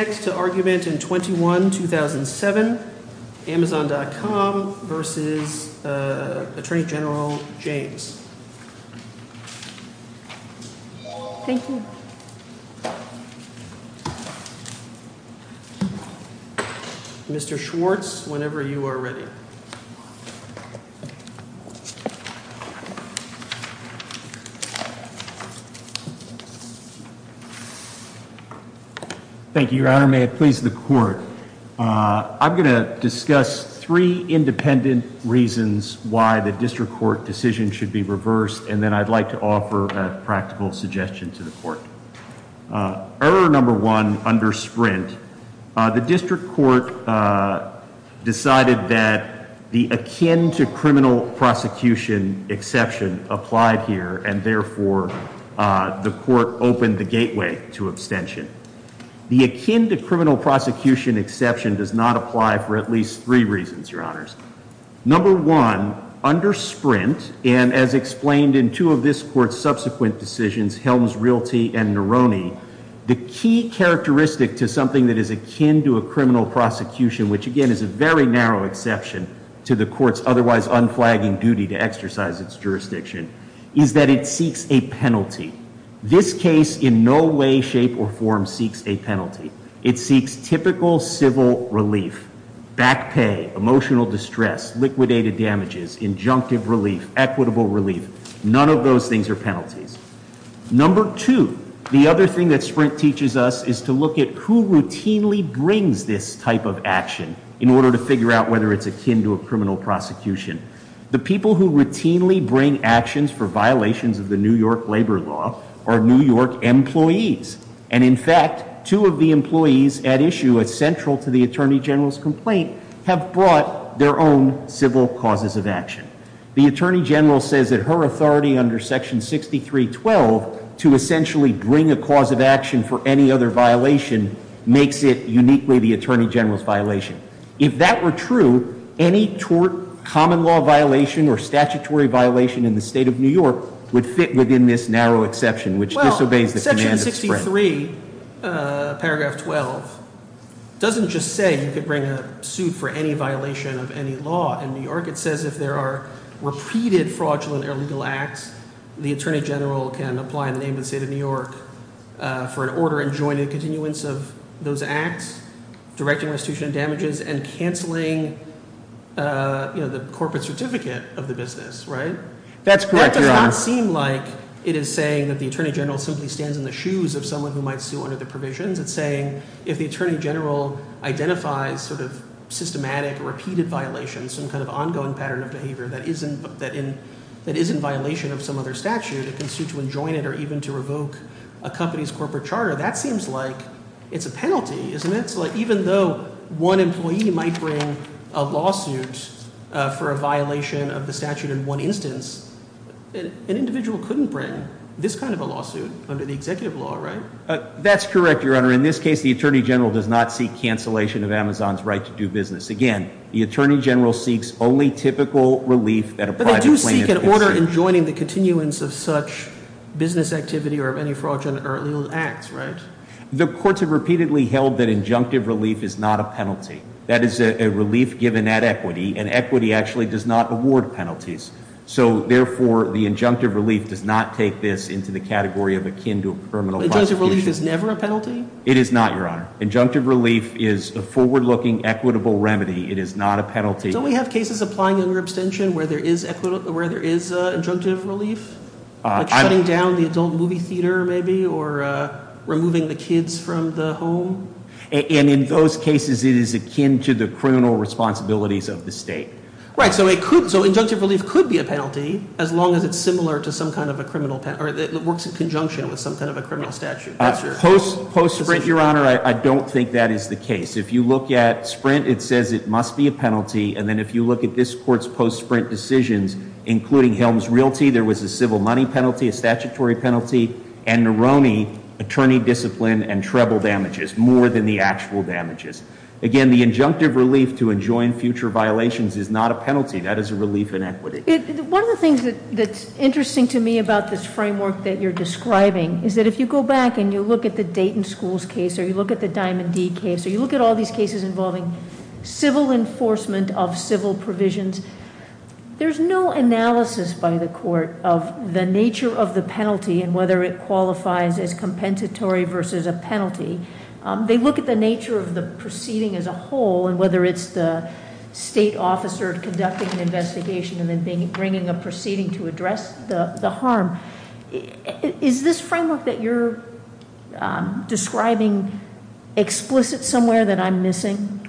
Next to argument in 21-2007, Amazon.com v. Attorney General James Mr. Schwartz, whenever you are ready. I'm going to discuss three independent reasons why the district court decision should be reversed, and then I'd like to offer a practical suggestion to the court. Number one, under Sprint, the district court decided that the akin to criminal prosecution exception applied here, and therefore, the court opened the gateway to abstention. The akin to criminal prosecution exception does not apply for at least three reasons, Your Honors. Number one, under Sprint, and as explained in two of this court's subsequent decisions, Helms Realty and Neroni, the key characteristic to something that is akin to a criminal prosecution, which again is a very narrow exception to the court's otherwise unflagging duty to exercise its jurisdiction, is that it seeks a penalty. This case in no way, shape, or form seeks a penalty. It seeks typical civil relief, back pay, emotional distress, liquidated damages, injunctive relief, equitable relief. None of those things are penalties. Number two, the other thing that Sprint teaches us is to look at who routinely brings this type of action in order to figure out whether it's akin to a criminal prosecution. The people who routinely bring actions for violations of the New York labor law are New York employees, and in fact, two of the employees at issue at central to the Attorney General's complaint have brought their own civil causes of action. The Attorney General says that her authority under Section 6312 to essentially bring a cause of action for any other violation makes it uniquely the Attorney General's violation. If that were true, any tort, common law violation, or statutory violation in the state of New York would fit within this narrow exception, which disobeys the command of Sprint. Section 63, paragraph 12, doesn't just say you could bring a suit for any violation of any law in New York, it says if there are repeated fraudulent or illegal acts, the Attorney General can apply the name of the state of New York for an order enjoining continuance of those acts, directing restitution of damages, and canceling the corporate certificate of the business, right? That's correct, Your Honor. That does not seem like it is saying that the Attorney General simply stands in the shoes of someone who might sue under the provisions. It's saying if the Attorney General identifies sort of systematic, repeated violations, some kind of ongoing pattern of behavior that is in violation of some other statute, it can sue to enjoin it or even to revoke a company's corporate charter. That seems like it's a penalty, isn't it? So even though one employee might bring a lawsuit for a violation of the statute in one instance, an individual couldn't bring this kind of a lawsuit under the executive law, right? That's correct, Your Honor. In this case, the Attorney General does not seek cancellation of Amazon's right to do business. Again, the Attorney General seeks only typical relief that a private plaintiff can seek. But they do seek an order enjoining the continuance of such business activity or of any fraudulent or illegal acts, right? The courts have repeatedly held that injunctive relief is not a penalty. That is a relief given at equity, and equity actually does not award penalties. So therefore, the injunctive relief does not take this into the category of akin to a criminal prosecution. So injunctive relief is never a penalty? It is not, Your Honor. Injunctive relief is a forward-looking, equitable remedy. It is not a penalty. Don't we have cases applying under abstention where there is injunctive relief, like shutting down the adult movie theater, maybe, or removing the kids from the home? And in those cases, it is akin to the criminal responsibilities of the state. Right. So injunctive relief could be a penalty, as long as it's similar to some kind of a criminal penalty, or it works in conjunction with some kind of a criminal statute. Post-Sprint, Your Honor, I don't think that is the case. If you look at Sprint, it says it must be a penalty, and then if you look at this Court's post-Sprint decisions, including Helms Realty, there was a civil money penalty, a statutory penalty, and Neroni, attorney discipline and treble damages, more than the actual damages. Again, the injunctive relief to enjoin future violations is not a penalty. That is a relief in equity. One of the things that's interesting to me about this framework that you're describing is that if you go back and you look at the Dayton Schools case, or you look at the Diamond D case, or you look at all these cases involving civil enforcement of civil provisions, there's no analysis by the court of the nature of the penalty and whether it qualifies as compensatory versus a penalty. They look at the nature of the proceeding as a whole, and whether it's the state officer conducting an investigation and bringing a proceeding to address the harm. Is this framework that you're describing explicit somewhere that I'm missing?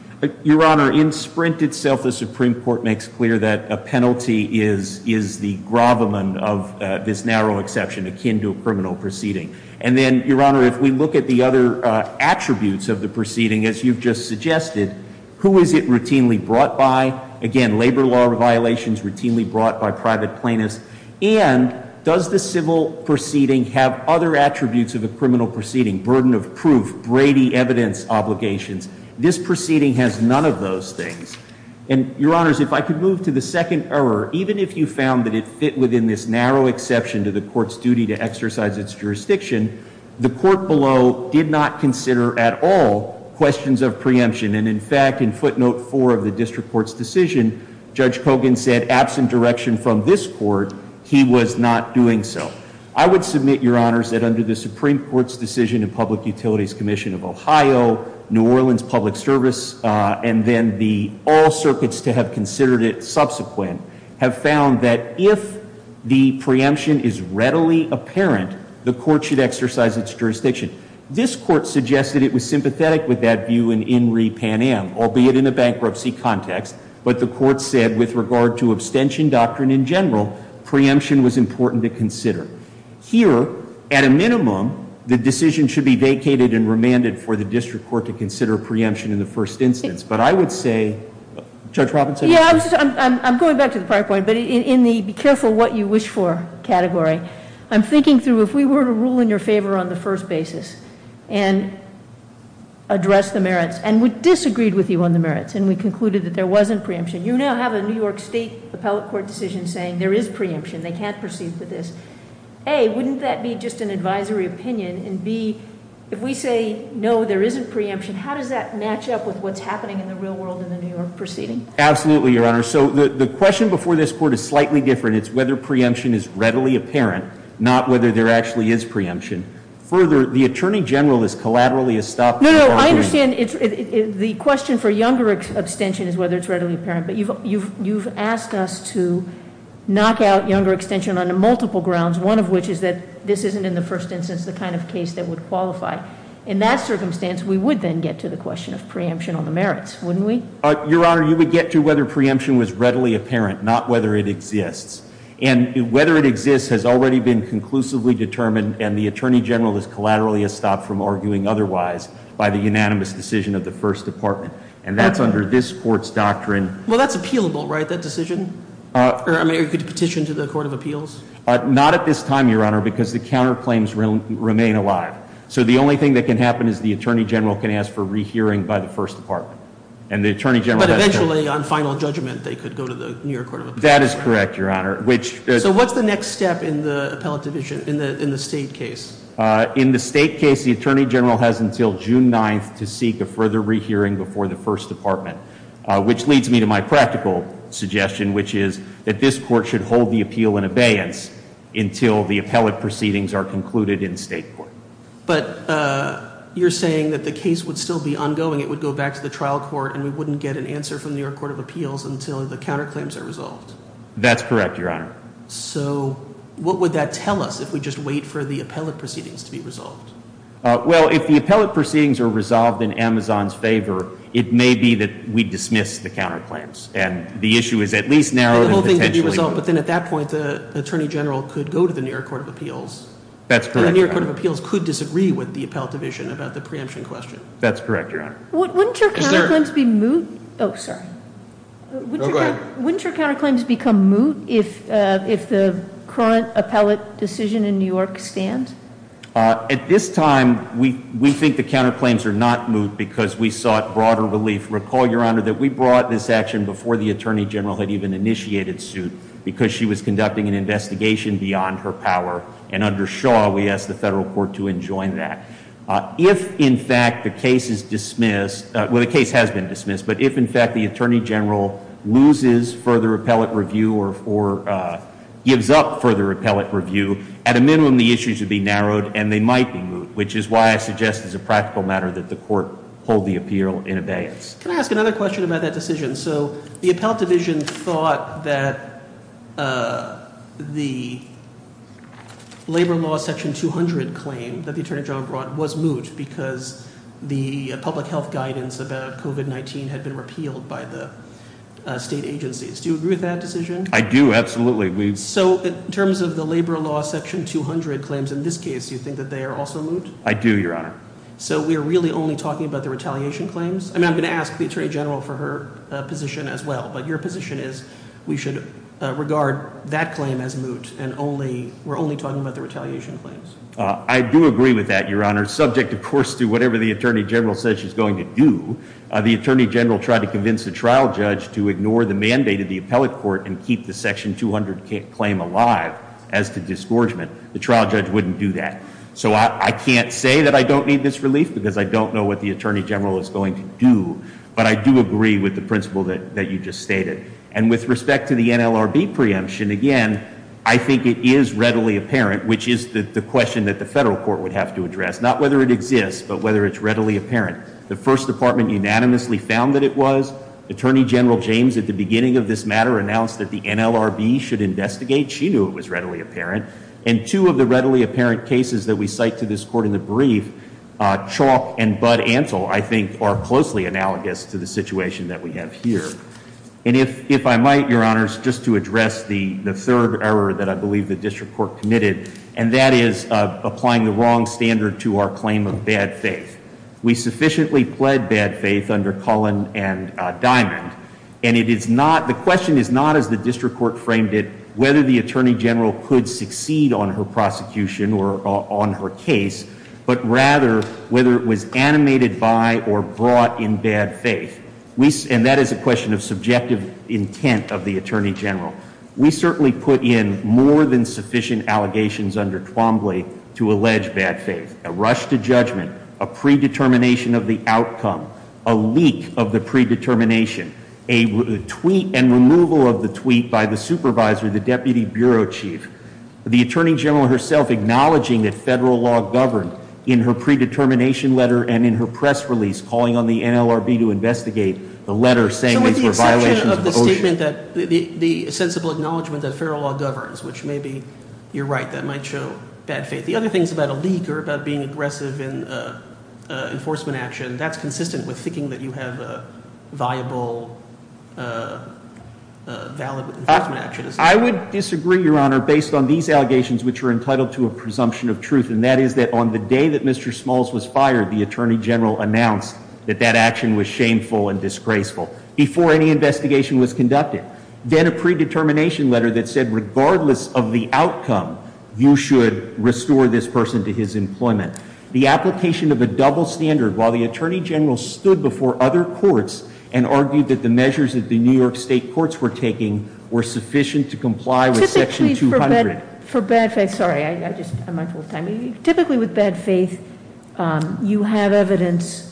Your Honor, in Sprint itself, the Supreme Court makes clear that a penalty is the gravamen of this narrow exception akin to a criminal proceeding. And then, Your Honor, if we look at the other attributes of the proceeding, as you've just suggested, who is it routinely brought by? Again, labor law violations routinely brought by private plaintiffs. And does the civil proceeding have other attributes of a criminal proceeding? Burden of proof, Brady evidence obligations. This proceeding has none of those things. And, Your Honors, if I could move to the second error. Even if you found that it fit within this narrow exception to the court's duty to exercise its jurisdiction, the court below did not consider at all questions of preemption. And in fact, in footnote four of the district court's decision, Judge Kogan said, absent direction from this court, he was not doing so. I would submit, Your Honors, that under the Supreme Court's decision of Public Utilities Commission of Ohio, New Orleans Public Service, and then the all circuits to have considered it subsequent, have found that if the preemption is readily apparent, the court should exercise its jurisdiction. This court suggested it was sympathetic with that view in In Re Pan Am, albeit in a bankruptcy context. But the court said, with regard to abstention doctrine in general, preemption was important to consider. Here, at a minimum, the decision should be vacated and remanded for the district court to consider preemption in the first instance. But I would say, Judge Robinson? Yeah, I'm going back to the prior point, but in the be careful what you wish for category. I'm thinking through, if we were to rule in your favor on the first basis and address the merits, and we disagreed with you on the merits, and we concluded that there wasn't preemption. You now have a New York State Appellate Court decision saying there is preemption, they can't proceed with this. A, wouldn't that be just an advisory opinion? And B, if we say no, there isn't preemption, how does that match up with what's happening in the real world in the New York proceeding? Absolutely, Your Honor. So the question before this court is slightly different. It's whether preemption is readily apparent, not whether there actually is preemption. Further, the Attorney General has collaterally estopped- No, no, I understand the question for younger abstention is whether it's readily apparent. But you've asked us to knock out younger abstention on multiple grounds, one of which is that this isn't in the first instance the kind of case that would qualify. In that circumstance, we would then get to the question of preemption on the merits, wouldn't we? Your Honor, you would get to whether preemption was readily apparent, not whether it exists. And whether it exists has already been conclusively determined, and the Attorney General has collaterally estopped from arguing otherwise by the unanimous decision of the First Department. And that's under this court's doctrine- Well, that's appealable, right, that decision? Or you could petition to the Court of Appeals? Not at this time, Your Honor, because the counterclaims remain alive. So the only thing that can happen is the Attorney General can ask for rehearing by the First Department. And the Attorney General- But eventually, on final judgment, they could go to the New York Court of Appeals. That is correct, Your Honor, which- So what's the next step in the appellate division, in the state case? In the state case, the Attorney General has until June 9th to seek a further rehearing before the First Department. Which leads me to my practical suggestion, which is that this court should hold the appeal in abeyance until the appellate proceedings are concluded in state court. But you're saying that the case would still be ongoing, it would go back to the trial court, and we wouldn't get an answer from the New York Court of Appeals until the counterclaims are resolved. That's correct, Your Honor. So what would that tell us if we just wait for the appellate proceedings to be resolved? Well, if the appellate proceedings are resolved in Amazon's favor, it may be that we dismiss the counterclaims. And the issue is at least narrowed and potentially- And the whole thing could be resolved, but then at that point, the Attorney General could go to the New York Court of Appeals. That's correct, Your Honor. And the New York Court of Appeals could disagree with the appellate division about the preemption question. That's correct, Your Honor. Wouldn't your counterclaims be moot? Sorry. Go ahead. Wouldn't your counterclaims become moot if the current appellate decision in New York stands? At this time, we think the counterclaims are not moot because we sought broader relief. Recall, Your Honor, that we brought this action before the Attorney General had even initiated suit because she was conducting an investigation beyond her power. And under Shaw, we asked the federal court to enjoin that. If, in fact, the case is dismissed, well, the case has been dismissed, but if, in fact, the Attorney General loses further appellate review or gives up further appellate review, at a minimum, the issues would be narrowed and they might be moot. Which is why I suggest as a practical matter that the court hold the appeal in abeyance. Can I ask another question about that decision? So the appellate division thought that the labor law section 200 claim that the Attorney General brought was moot because the public health guidance about COVID-19 had been repealed by the state agencies. Do you agree with that decision? I do, absolutely. So in terms of the labor law section 200 claims in this case, do you think that they are also moot? I do, Your Honor. So we're really only talking about the retaliation claims? I'm going to ask the Attorney General for her position as well. But your position is we should regard that claim as moot and we're only talking about the retaliation claims. I do agree with that, Your Honor, subject, of course, to whatever the Attorney General says she's going to do. The Attorney General tried to convince the trial judge to ignore the mandate of the appellate court and keep the section 200 claim alive as to disgorgement. The trial judge wouldn't do that. So I can't say that I don't need this relief because I don't know what the Attorney General is going to do. But I do agree with the principle that you just stated. And with respect to the NLRB preemption, again, I think it is readily apparent, which is the question that the federal court would have to address, not whether it exists, but whether it's readily apparent. The first department unanimously found that it was. Attorney General James, at the beginning of this matter, announced that the NLRB should investigate. She knew it was readily apparent. And two of the readily apparent cases that we cite to this court in the brief, Chalk and Bud Antle, I think, are closely analogous to the situation that we have here. And if I might, Your Honors, just to address the third error that I believe the district court committed, and that is applying the wrong standard to our claim of bad faith. We sufficiently pled bad faith under Cullen and Diamond. And the question is not, as the district court framed it, whether the Attorney General could succeed on her prosecution or on her case. But rather, whether it was animated by or brought in bad faith. And that is a question of subjective intent of the Attorney General. We certainly put in more than sufficient allegations under Twombly to allege bad faith. A rush to judgment, a predetermination of the outcome, a leak of the predetermination, a tweet and removal of the tweet by the supervisor, the deputy bureau chief. The Attorney General herself acknowledging that federal law governed in her predetermination letter and in her press release calling on the NLRB to investigate the letter saying these were violations of the ocean. So with the exception of the statement that, the sensible acknowledgement that federal law governs, which maybe you're right, that might show bad faith. The other things about a leak or about being aggressive in enforcement action, that's consistent with thinking that you have a viable, valid enforcement action. I would disagree, Your Honor, based on these allegations which are entitled to a presumption of truth. And that is that on the day that Mr. Smalls was fired, the Attorney General announced that that action was shameful and disgraceful before any investigation was conducted. Then a predetermination letter that said regardless of the outcome, you should restore this person to his employment. The application of a double standard while the Attorney General stood before other courts and argued that the measures that the New York State courts were taking were sufficient to comply with section 200. For bad faith, sorry, I'm just, I'm out of time. Typically with bad faith, you have evidence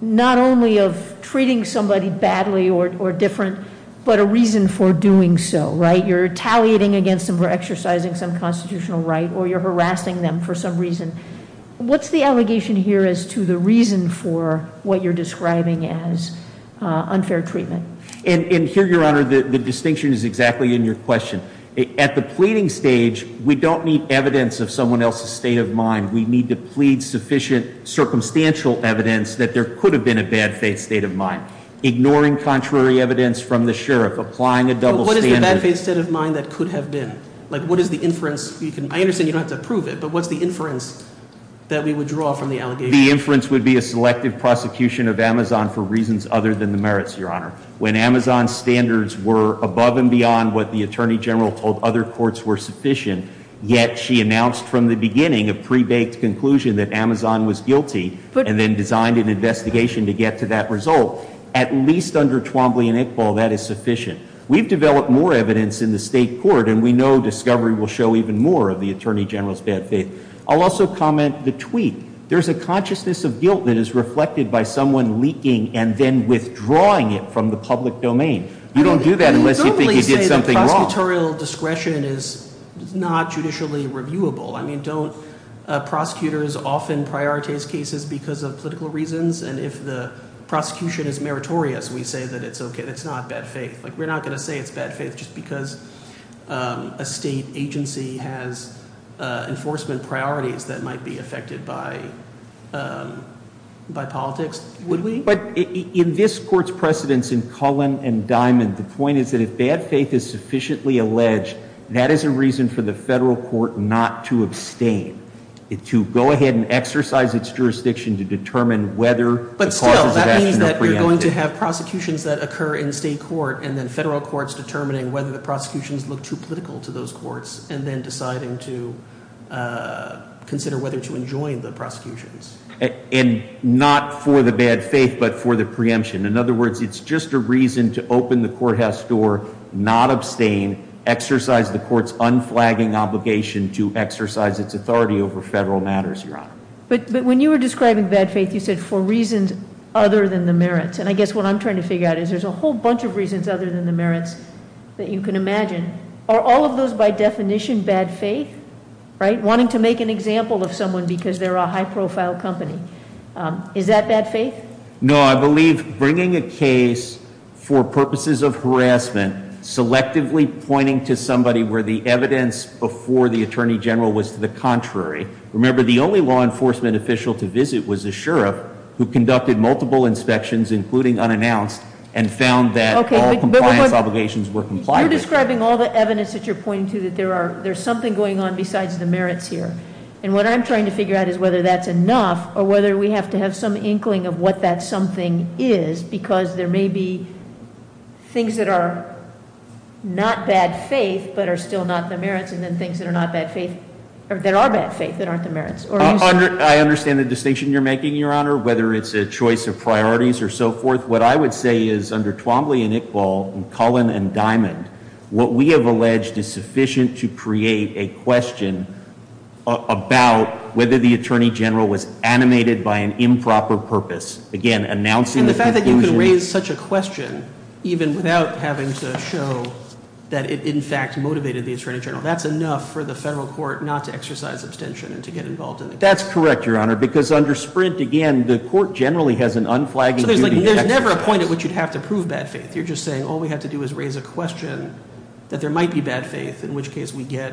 not only of treating somebody badly or different, but a reason for doing so, right? You're tallying against them for exercising some constitutional right or you're harassing them for some reason. What's the allegation here as to the reason for what you're describing as unfair treatment? And here, Your Honor, the distinction is exactly in your question. At the pleading stage, we don't need evidence of someone else's state of mind. We need to plead sufficient circumstantial evidence that there could have been a bad faith state of mind. Ignoring contrary evidence from the sheriff, applying a double standard. What is the bad faith state of mind that could have been? What is the inference, I understand you don't have to prove it, but what's the inference that we would draw from the allegation? The inference would be a selective prosecution of Amazon for reasons other than the merits, Your Honor. When Amazon's standards were above and beyond what the Attorney General told other courts were sufficient, yet she announced from the beginning a pre-baked conclusion that Amazon was guilty. And then designed an investigation to get to that result. At least under Twombly and Iqbal, that is sufficient. We've developed more evidence in the state court, and we know discovery will show even more of the Attorney General's bad faith. I'll also comment the tweet. There's a consciousness of guilt that is reflected by someone leaking and then withdrawing it from the public domain. You don't do that unless you think you did something wrong. Prosecutorial discretion is not judicially reviewable. I mean, don't prosecutors often prioritize cases because of political reasons? And if the prosecution is meritorious, we say that it's okay, it's not bad faith. We're not going to say it's bad faith just because a state agency has enforcement priorities that might be affected by politics, would we? But in this court's precedence in Cullen and Diamond, the point is that if bad faith is sufficiently alleged, that is a reason for the federal court not to abstain. To go ahead and exercise its jurisdiction to determine whether- But still, that means that you're going to have prosecutions that occur in state court, and then federal courts determining whether the prosecutions look too political to those courts. And then deciding to consider whether to enjoin the prosecutions. And not for the bad faith, but for the preemption. In other words, it's just a reason to open the courthouse door, not abstain, exercise the court's unflagging obligation to exercise its authority over federal matters, Your Honor. But when you were describing bad faith, you said for reasons other than the merits. And I guess what I'm trying to figure out is there's a whole bunch of reasons other than the merits that you can imagine. Are all of those by definition bad faith? Right? Wanting to make an example of someone because they're a high profile company. Is that bad faith? No, I believe bringing a case for purposes of harassment, selectively pointing to somebody where the evidence before the attorney general was to the contrary. Remember, the only law enforcement official to visit was a sheriff who conducted multiple inspections, including unannounced, and found that all compliance obligations were complied with. You're describing all the evidence that you're pointing to that there's something going on besides the merits here. And what I'm trying to figure out is whether that's enough, or whether we have to have some inkling of what that something is. Because there may be things that are not bad faith, but are still not the merits, and then things that are bad faith that aren't the merits. I understand the distinction you're making, Your Honor, whether it's a choice of priorities or so forth. What I would say is under Twombly and Iqbal, and Cullen and Diamond, what we have alleged is sufficient to create a question about whether the attorney general was animated by an improper purpose. Again, announcing the conclusion- And the fact that you could raise such a question, even without having to show that it in fact motivated the attorney general. That's enough for the federal court not to exercise abstention and to get involved in the case. That's correct, Your Honor, because under Sprint, again, the court generally has an unflagging duty- So there's never a point at which you'd have to prove bad faith. You're just saying, all we have to do is raise a question that there might be bad faith, in which case we get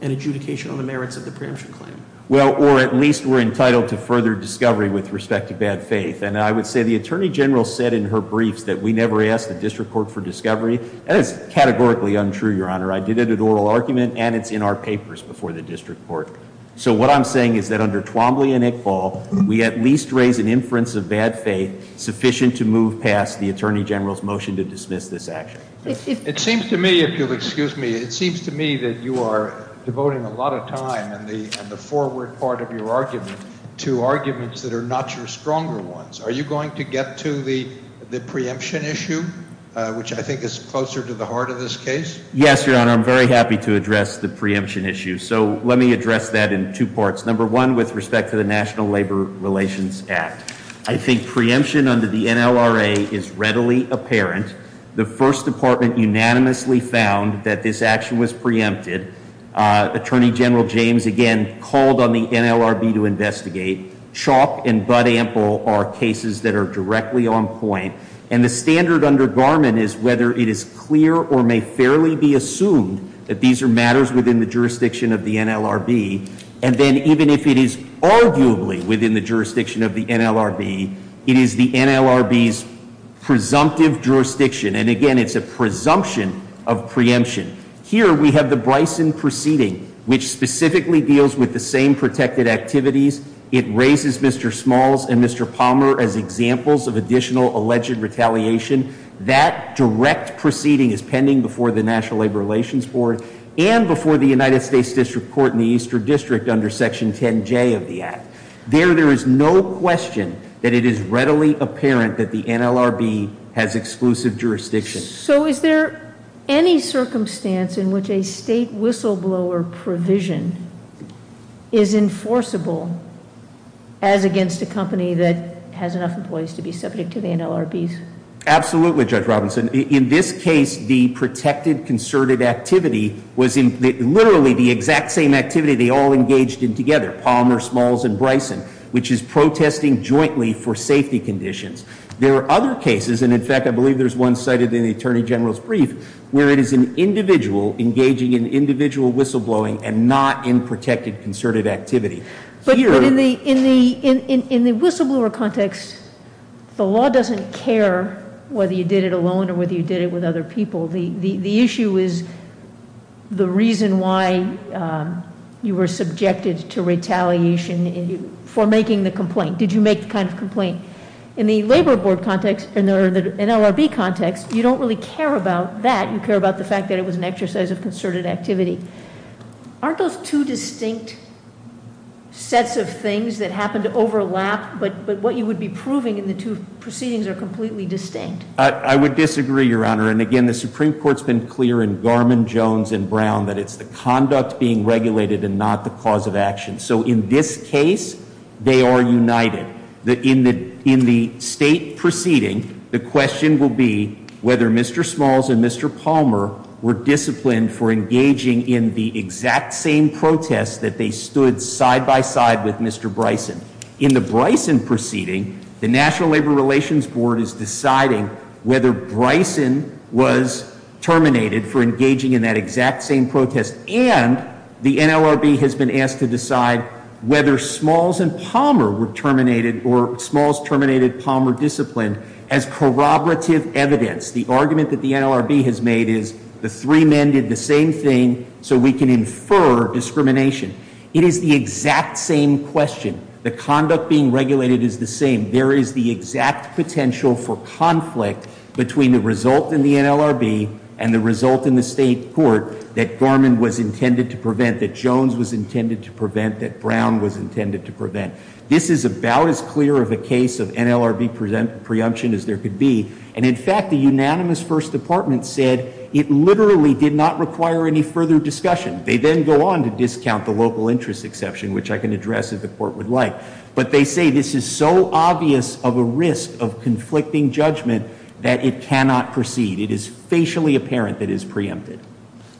an adjudication on the merits of the preemption claim. Well, or at least we're entitled to further discovery with respect to bad faith. And I would say the attorney general said in her briefs that we never ask the district court for discovery, and it's categorically untrue, Your Honor. I did it at oral argument, and it's in our papers before the district court. So what I'm saying is that under Twombly and Iqbal, we at least raise an inference of bad faith sufficient to move past the attorney general's motion to dismiss this action. It seems to me, if you'll excuse me, it seems to me that you are devoting a lot of time in the forward part of your argument to arguments that are not your stronger ones. Are you going to get to the preemption issue, which I think is closer to the heart of this case? Yes, Your Honor, I'm very happy to address the preemption issue. So let me address that in two parts. Number one, with respect to the National Labor Relations Act. I think preemption under the NLRA is readily apparent. The first department unanimously found that this action was preempted. Attorney General James again called on the NLRB to investigate. Chalk and bud ample are cases that are directly on point. And the standard under Garmon is whether it is clear or may fairly be assumed that these are matters within the jurisdiction of the NLRB. And then even if it is arguably within the jurisdiction of the NLRB, it is the NLRB's presumptive jurisdiction. And again, it's a presumption of preemption. Here we have the Bryson proceeding, which specifically deals with the same protected activities. It raises Mr. Smalls and Mr. Palmer as examples of additional alleged retaliation. That direct proceeding is pending before the National Labor Relations Board and before the United States District Court in the Eastern District under section 10J of the act. There, there is no question that it is readily apparent that the NLRB has exclusive jurisdiction. So is there any circumstance in which a state whistleblower provision is enforceable as against a company that has enough employees to be subject to the NLRBs? Absolutely, Judge Robinson. In this case, the protected concerted activity was literally the exact same activity they all engaged in together. Palmer, Smalls, and Bryson, which is protesting jointly for safety conditions. There are other cases, and in fact, I believe there's one cited in the Attorney General's brief, where it is an individual engaging in individual whistleblowing and not in protected concerted activity. Here- But in the whistleblower context, the law doesn't care whether you did it alone or whether you did it with other people. The issue is the reason why you were subjected to retaliation for making the complaint. Did you make the kind of complaint? In the labor board context, in the NLRB context, you don't really care about that. You care about the fact that it was an exercise of concerted activity. Aren't those two distinct sets of things that happen to overlap? But what you would be proving in the two proceedings are completely distinct. I would disagree, Your Honor. And again, the Supreme Court's been clear in Garmon, Jones, and Brown that it's the conduct being regulated and not the cause of action. So in this case, they are united. In the state proceeding, the question will be whether Mr. Smalls and Mr. Palmer were disciplined for engaging in the exact same protest that they stood side by side with Mr. Bryson. In the Bryson proceeding, the National Labor Relations Board is deciding whether Bryson was terminated for engaging in that exact same protest, and the NLRB has been asked to decide whether Smalls and Palmer were terminated or Smalls terminated Palmer discipline as corroborative evidence. The argument that the NLRB has made is the three men did the same thing so we can infer discrimination. It is the exact same question. The conduct being regulated is the same. There is the exact potential for conflict between the result in the NLRB and the result in the state court that Garmon was intended to prevent, that Jones was intended to prevent, that Brown was intended to prevent. This is about as clear of a case of NLRB preemption as there could be. And in fact, the unanimous first department said it literally did not require any further discussion. They then go on to discount the local interest exception, which I can address if the court would like. But they say this is so obvious of a risk of conflicting judgment that it cannot proceed. It is facially apparent that it is preempted.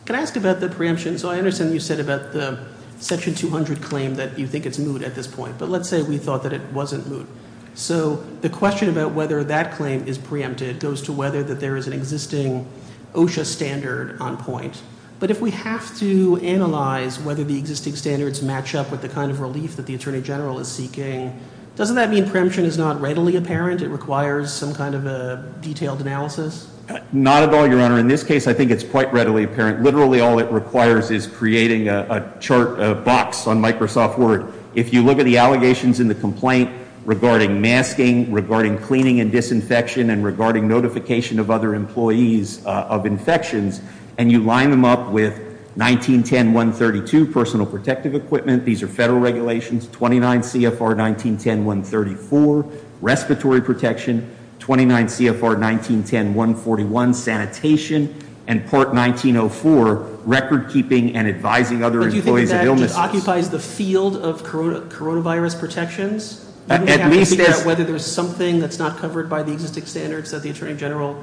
Can I ask about the preemption? So I understand you said about the section 200 claim that you think it's moot at this point, but let's say we thought that it wasn't moot. So the question about whether that claim is preempted goes to whether that there is an existing OSHA standard on point. But if we have to analyze whether the existing standards match up with the kind of relief that the attorney general is seeking, doesn't that mean preemption is not readily apparent? It requires some kind of a detailed analysis? Not at all, your honor. In this case, I think it's quite readily apparent. Literally all it requires is creating a chart, a box on Microsoft Word. If you look at the allegations in the complaint regarding masking, regarding cleaning and disinfection, and regarding notification of other employees of infections. And you line them up with 1910.132, personal protective equipment. These are federal regulations. 29 CFR 1910.134, respiratory protection. 29 CFR 1910.141, sanitation. And part 1904, record keeping and advising other employees of illnesses. But do you think that just occupies the field of coronavirus protections? At least there's- Whether there's something that's not covered by the existing standards that the attorney general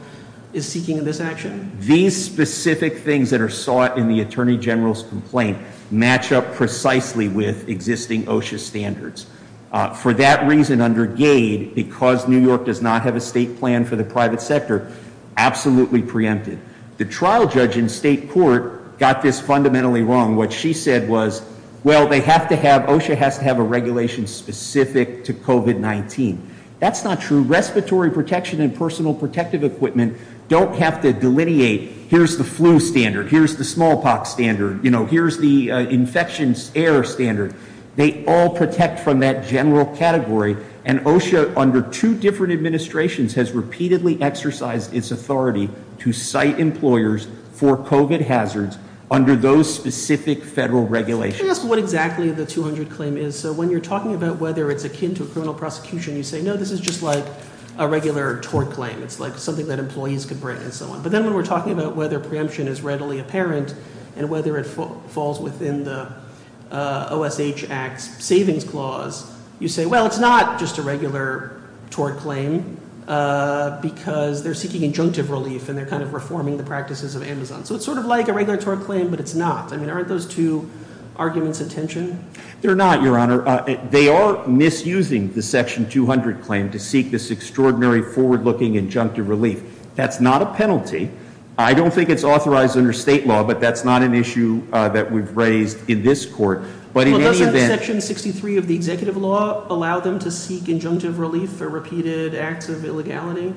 is seeking in this action? These specific things that are sought in the attorney general's complaint match up precisely with existing OSHA standards. For that reason, under Gade, because New York does not have a state plan for the private sector, absolutely preempted. The trial judge in state court got this fundamentally wrong. What she said was, well, they have to have, OSHA has to have a regulation specific to COVID-19. That's not true. Respiratory protection and personal protective equipment don't have to delineate, here's the flu standard, here's the smallpox standard, here's the infections air standard. They all protect from that general category. And OSHA, under two different administrations, has repeatedly exercised its authority to cite employers for COVID hazards under those specific federal regulations. Can I ask what exactly the 200 claim is? And so when you're talking about whether it's akin to a criminal prosecution, you say, no, this is just like a regular tort claim. It's like something that employees could bring and so on. But then when we're talking about whether preemption is readily apparent, and whether it falls within the OSH Act's savings clause, you say, well, it's not just a regular tort claim, because they're seeking injunctive relief. And they're kind of reforming the practices of Amazon. So it's sort of like a regular tort claim, but it's not. I mean, aren't those two arguments of tension? They're not, Your Honor. They are misusing the section 200 claim to seek this extraordinary forward looking injunctive relief. That's not a penalty. I don't think it's authorized under state law, but that's not an issue that we've raised in this court. But in any event- But doesn't section 63 of the executive law allow them to seek injunctive relief for repeated acts of illegality?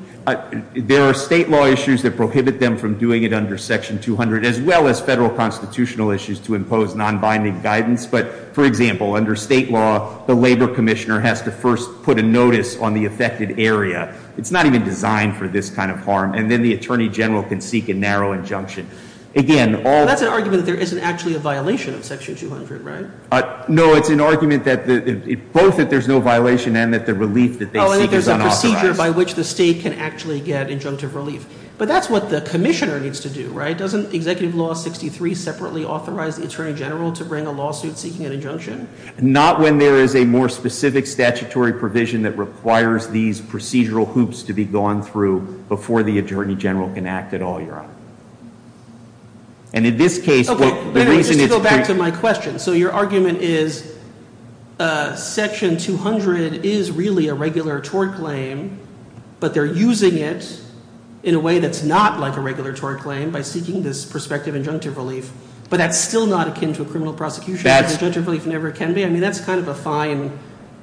There are state law issues that prohibit them from doing it under section 200 as well as federal constitutional issues to impose non-binding guidance. But for example, under state law, the labor commissioner has to first put a notice on the affected area. It's not even designed for this kind of harm. And then the attorney general can seek a narrow injunction. Again, all- That's an argument that there isn't actually a violation of section 200, right? No, it's an argument that both that there's no violation and that the relief that they seek is unauthorized. There's a procedure by which the state can actually get injunctive relief. But that's what the commissioner needs to do, right? Doesn't executive law 63 separately authorize the attorney general to bring a lawsuit seeking an injunction? Not when there is a more specific statutory provision that requires these procedural hoops to be gone through before the attorney general can act at all, Your Honor. And in this case- Okay, wait a minute, just to go back to my question. So your argument is section 200 is really a regular tort claim, but they're using it in a way that's not like a regular tort claim by seeking this prospective injunctive relief. But that's still not akin to a criminal prosecution, and injunctive relief never can be. I mean, that's kind of a fine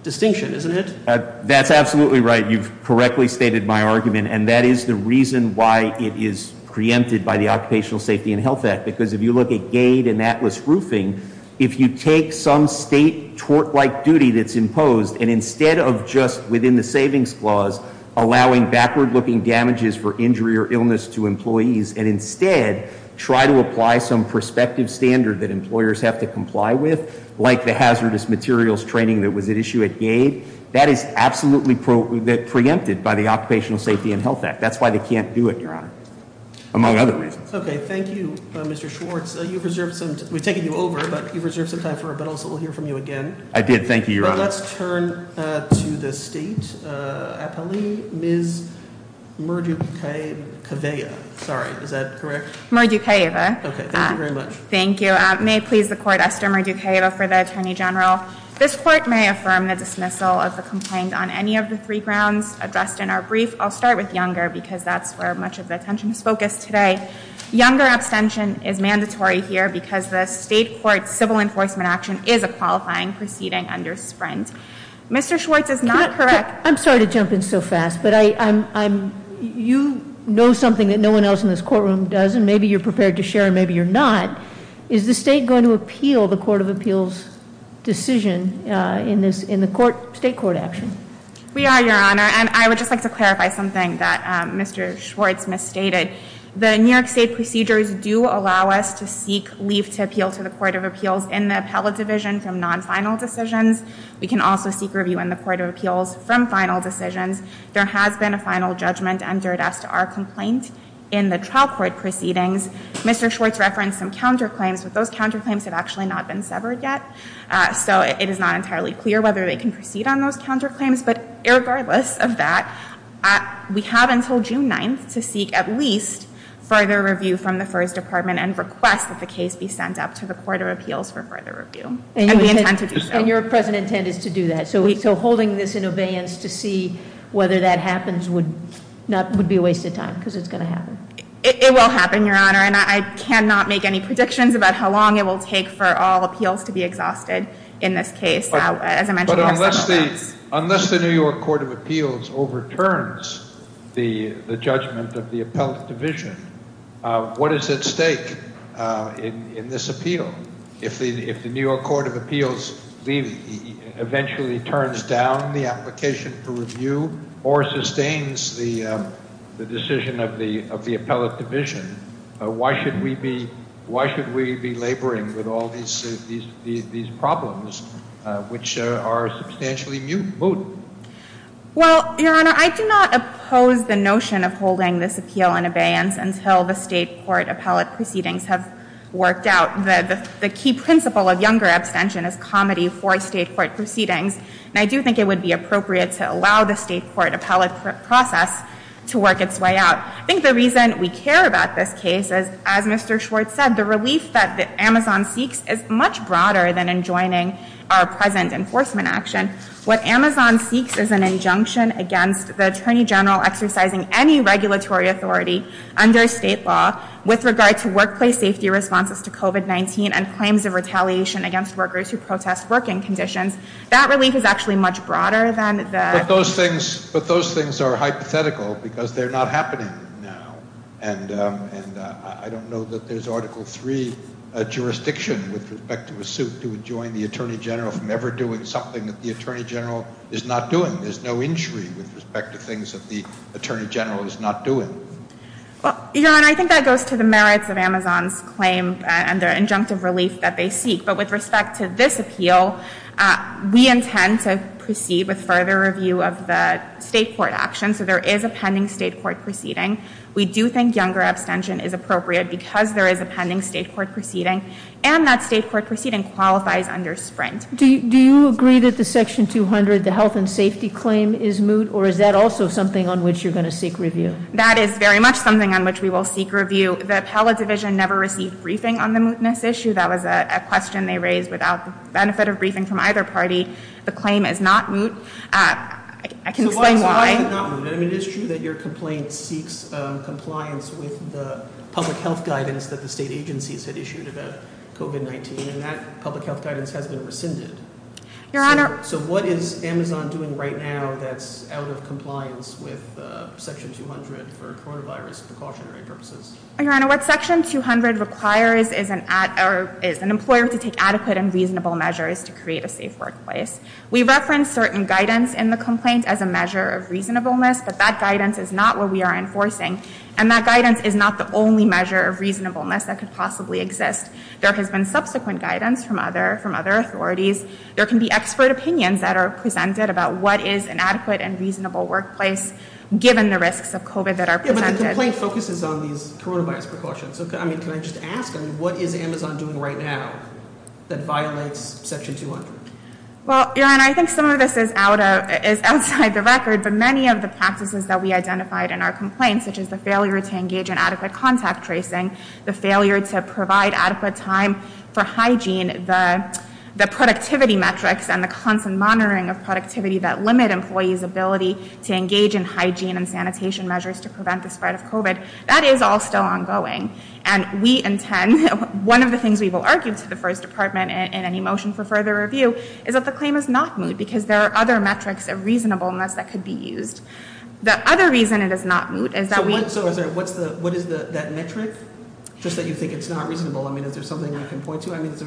distinction, isn't it? That's absolutely right. You've correctly stated my argument, and that is the reason why it is preempted by the Occupational Safety and Health Act, because if you look at Gade and Atlas Roofing, if you take some state tort-like duty that's imposed, and instead of just, within the savings clause, allowing backward-looking damages for injury or illness to employees. And instead, try to apply some prospective standard that employers have to comply with, like the hazardous materials training that was at issue at Gade. That is absolutely preempted by the Occupational Safety and Health Act. That's why they can't do it, Your Honor. Among other reasons. Okay, thank you, Mr. Schwartz. We've taken you over, but you've reserved some time for it, but also we'll hear from you again. I did, thank you, Your Honor. Let's turn to the state appellee, Ms. Murdukeva, sorry, is that correct? Murdukeva. Okay, thank you very much. Thank you. May it please the court, Esther Murdukeva for the Attorney General. This court may affirm the dismissal of the complaint on any of the three grounds addressed in our brief. I'll start with Younger, because that's where much of the attention is focused today. Younger abstention is mandatory here because the state court civil enforcement action is a qualifying proceeding under Sprint. Mr. Schwartz is not correct. I'm sorry to jump in so fast, but you know something that no one else in this courtroom does, and maybe you're prepared to share, and maybe you're not. Is the state going to appeal the Court of Appeals decision in the state court action? We are, Your Honor, and I would just like to clarify something that Mr. Schwartz misstated. The New York State procedures do allow us to seek leave to appeal to the Court of Appeals in the appellate division from non-final decisions. We can also seek review in the Court of Appeals from final decisions. There has been a final judgment entered as to our complaint in the trial court proceedings. Mr. Schwartz referenced some counterclaims, but those counterclaims have actually not been severed yet. So it is not entirely clear whether they can proceed on those counterclaims. But irregardless of that, we have until June 9th to seek at least further review from the FIRS Department and request that the case be sent up to the Court of Appeals for further review. And we intend to do so. And your present intent is to do that. So holding this in obeyance to see whether that happens would be a waste of time, because it's going to happen. It will happen, Your Honor, and I cannot make any predictions about how long it will take for all appeals to be exhausted in this case. As I mentioned, we have some events. Unless the New York Court of Appeals overturns the judgment of the appellate division, what is at stake in this appeal if the New York Court of Appeals eventually turns down the application for review or sustains the decision of the appellate division? Why should we be laboring with all these problems, which are substantially moot? Well, Your Honor, I do not oppose the notion of holding this appeal in abeyance until the state court appellate proceedings have worked out. The key principle of younger abstention is comedy for state court proceedings. And I do think it would be appropriate to allow the state court appellate process to work its way out. I think the reason we care about this case is, as Mr. Schwartz said, the relief that Amazon seeks is much broader than enjoining our present enforcement action. What Amazon seeks is an injunction against the attorney general exercising any regulatory authority under state law with regard to workplace safety responses to COVID-19 and claims of retaliation against workers who protest working conditions. That relief is actually much broader than the- But those things are hypothetical because they're not happening now. And I don't know that there's Article III jurisdiction with respect to a suit to enjoin the attorney general from ever doing something that the attorney general is not doing. There's no injury with respect to things that the attorney general is not doing. Well, Your Honor, I think that goes to the merits of Amazon's claim and their injunctive relief that they seek. But with respect to this appeal, we intend to proceed with further review of the state court action. So there is a pending state court proceeding. We do think younger abstention is appropriate because there is a pending state court proceeding. And that state court proceeding qualifies under Sprint. Do you agree that the section 200, the health and safety claim, is moot? Or is that also something on which you're going to seek review? That is very much something on which we will seek review. The appellate division never received briefing on the mootness issue. That was a question they raised without the benefit of briefing from either party. The claim is not moot. I can explain why. So why is it not moot? I mean, it's true that your complaint seeks compliance with the public health guidance that the state agencies had issued about COVID-19. And that public health guidance has been rescinded. Your Honor. So what is Amazon doing right now that's out of compliance with Section 200 for coronavirus precautionary purposes? Your Honor, what Section 200 requires is an employer to take adequate and reasonable measures to create a safe workplace. We reference certain guidance in the complaint as a measure of reasonableness. But that guidance is not what we are enforcing. And that guidance is not the only measure of reasonableness that could possibly exist. There has been subsequent guidance from other authorities. There can be expert opinions that are presented about what is an adequate and reasonable workplace given the risks of COVID that are presented. Yeah, but the complaint focuses on these coronavirus precautions. I mean, can I just ask, what is Amazon doing right now that violates Section 200? Well, Your Honor, I think some of this is outside the record. But many of the practices that we identified in our complaint, such as the failure to engage in adequate contact tracing, the failure to provide adequate time for hygiene, the productivity metrics and the constant monitoring of productivity that limit employees' ability to engage in hygiene and sanitation measures to prevent the spread of COVID, that is all still ongoing. And we intend, one of the things we will argue to the First Department in any motion for further review, is that the claim is not moot because there are other metrics of reasonableness that could be used. The other reason it is not moot is that we- So what is that metric, just that you think it's not reasonable? I mean, is there something I can point to? It's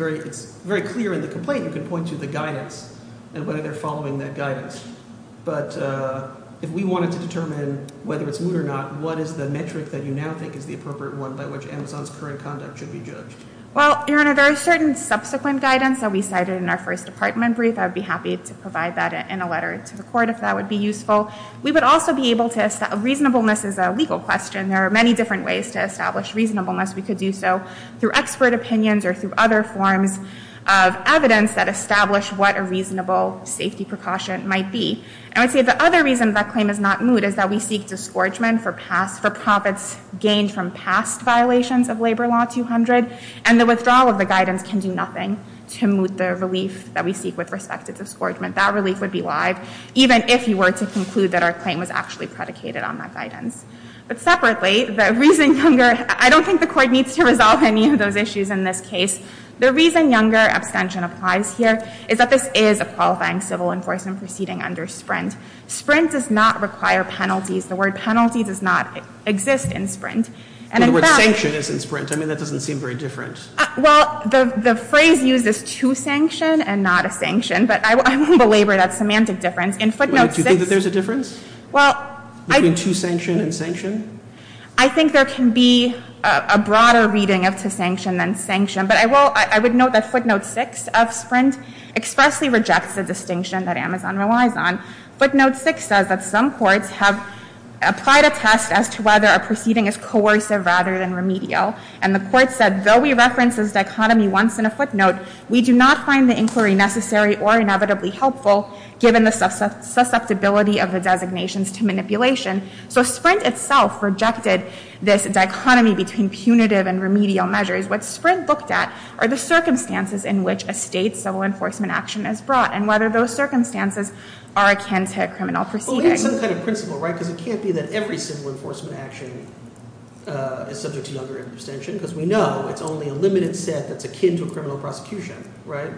very clear in the complaint you can point to the guidance and whether they're following that guidance. But if we wanted to determine whether it's moot or not, what is the metric that you now think is the appropriate one by which Amazon's current conduct should be judged? Well, Your Honor, there are certain subsequent guidance that we cited in our First Department brief. I would be happy to provide that in a letter to the court if that would be useful. We would also be able to- reasonableness is a legal question. There are many different ways to establish reasonableness. We could do so through expert opinions or through other forms of evidence that establish what a reasonable safety precaution might be. And I'd say the other reason that claim is not moot is that we seek disgorgement for past- for profits gained from past violations of Labor Law 200. And the withdrawal of the guidance can do nothing to moot the relief that we seek with respect to disgorgement. That relief would be live, even if you were to conclude that our claim was actually predicated on that guidance. But separately, the reason younger- I don't think the Court needs to resolve any of those issues in this case. The reason younger abstention applies here is that this is a qualifying civil enforcement proceeding under Sprint. Sprint does not require penalties. The word penalty does not exist in Sprint. And in fact- The word sanction is in Sprint. I mean, that doesn't seem very different. Well, the phrase used is to sanction and not a sanction. But I won't belabor that semantic difference. In Footnote 6- Do you think that there's a difference? Well, I- Between to sanction and sanction? I think there can be a broader reading of to sanction than sanction. But I will- I would note that Footnote 6 of Sprint expressly rejects the distinction that Amazon relies on. Footnote 6 says that some courts have applied a test as to whether a proceeding is coercive rather than remedial. And the court said, though we reference this dichotomy once in a footnote, we do not find the inquiry necessary or So Sprint itself rejected this dichotomy between punitive and remedial measures. What Sprint looked at are the circumstances in which a state's civil enforcement action is brought and whether those circumstances are akin to a criminal proceeding. Well, we need some kind of principle, right? Because it can't be that every civil enforcement action is subject to younger interdention. Because we know it's only a limited set that's akin to a criminal prosecution, right?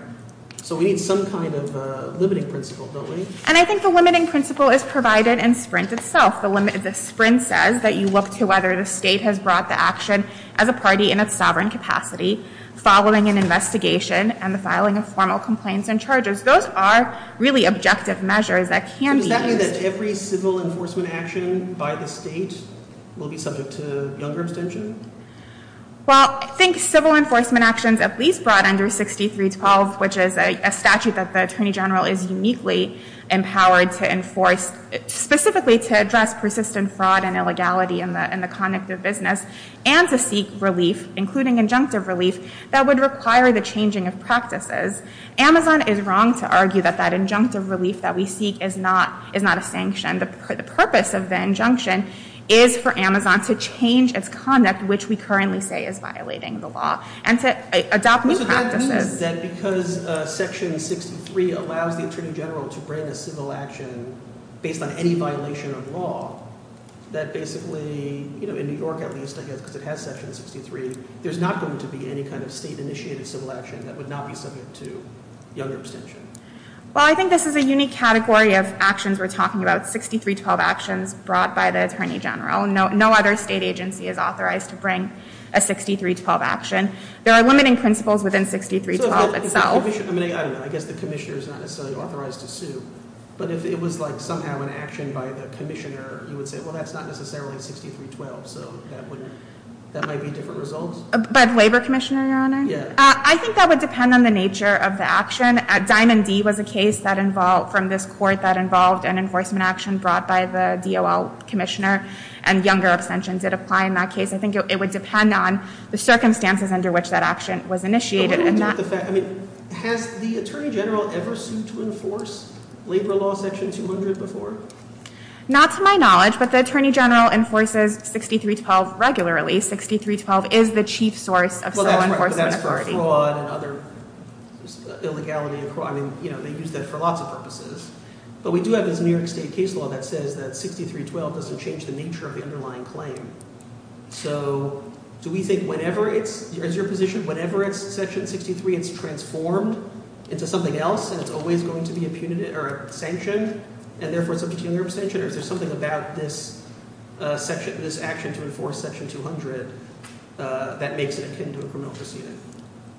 So we need some kind of limiting principle, don't we? And I think the limiting principle is provided in Sprint itself. The Sprint says that you look to whether the state has brought the action as a party in its sovereign capacity following an investigation and the filing of formal complaints and charges. Those are really objective measures that can be used- Does that mean that every civil enforcement action by the state will be subject to younger interdention? Well, I think civil enforcement actions at least brought under 6312, which is a statute that the Attorney General is uniquely empowered to enforce, specifically to address persistent fraud and illegality in the conduct of business, and to seek relief, including injunctive relief, that would require the changing of practices. Amazon is wrong to argue that that injunctive relief that we seek is not a sanction. The purpose of the injunction is for Amazon to change its conduct, which we currently say is violating the law, and to adopt new practices. That because Section 63 allows the Attorney General to bring a civil action based on any violation of law, that basically, you know, in New York at least, because it has Section 63, there's not going to be any kind of state-initiated civil action that would not be subject to younger abstention. Well, I think this is a unique category of actions we're talking about. 6312 actions brought by the Attorney General. No other state agency is authorized to bring a 6312 action. There are limiting principles within 6312 itself. I guess the commissioner is not necessarily authorized to sue, but if it was like somehow an action by the commissioner, you would say, well, that's not necessarily 6312, so that might be different results. By the labor commissioner, Your Honor? Yeah. I think that would depend on the nature of the action. Diamond D was a case that involved, from this court, that involved an enforcement action brought by the DOL commissioner, and younger abstention did apply in that case. I think it would depend on the circumstances under which that action was initiated. No, but I'm talking about the fact, I mean, has the Attorney General ever sued to enforce Labor Law Section 200 before? Not to my knowledge, but the Attorney General enforces 6312 regularly. 6312 is the chief source of civil enforcement authority. Well, that's right, but that's for fraud and other illegality and fraud. I mean, you know, they use that for lots of purposes. But we do have this New York State case law that says that 6312 doesn't change the nature of the underlying claim. So do we think whenever it's, is your position, whenever it's Section 63, it's transformed into something else, and it's always going to be a punitive or a sanction, and therefore it's a particular abstention? Or is there something about this action to enforce Section 200 that makes it akin to a criminal proceeding?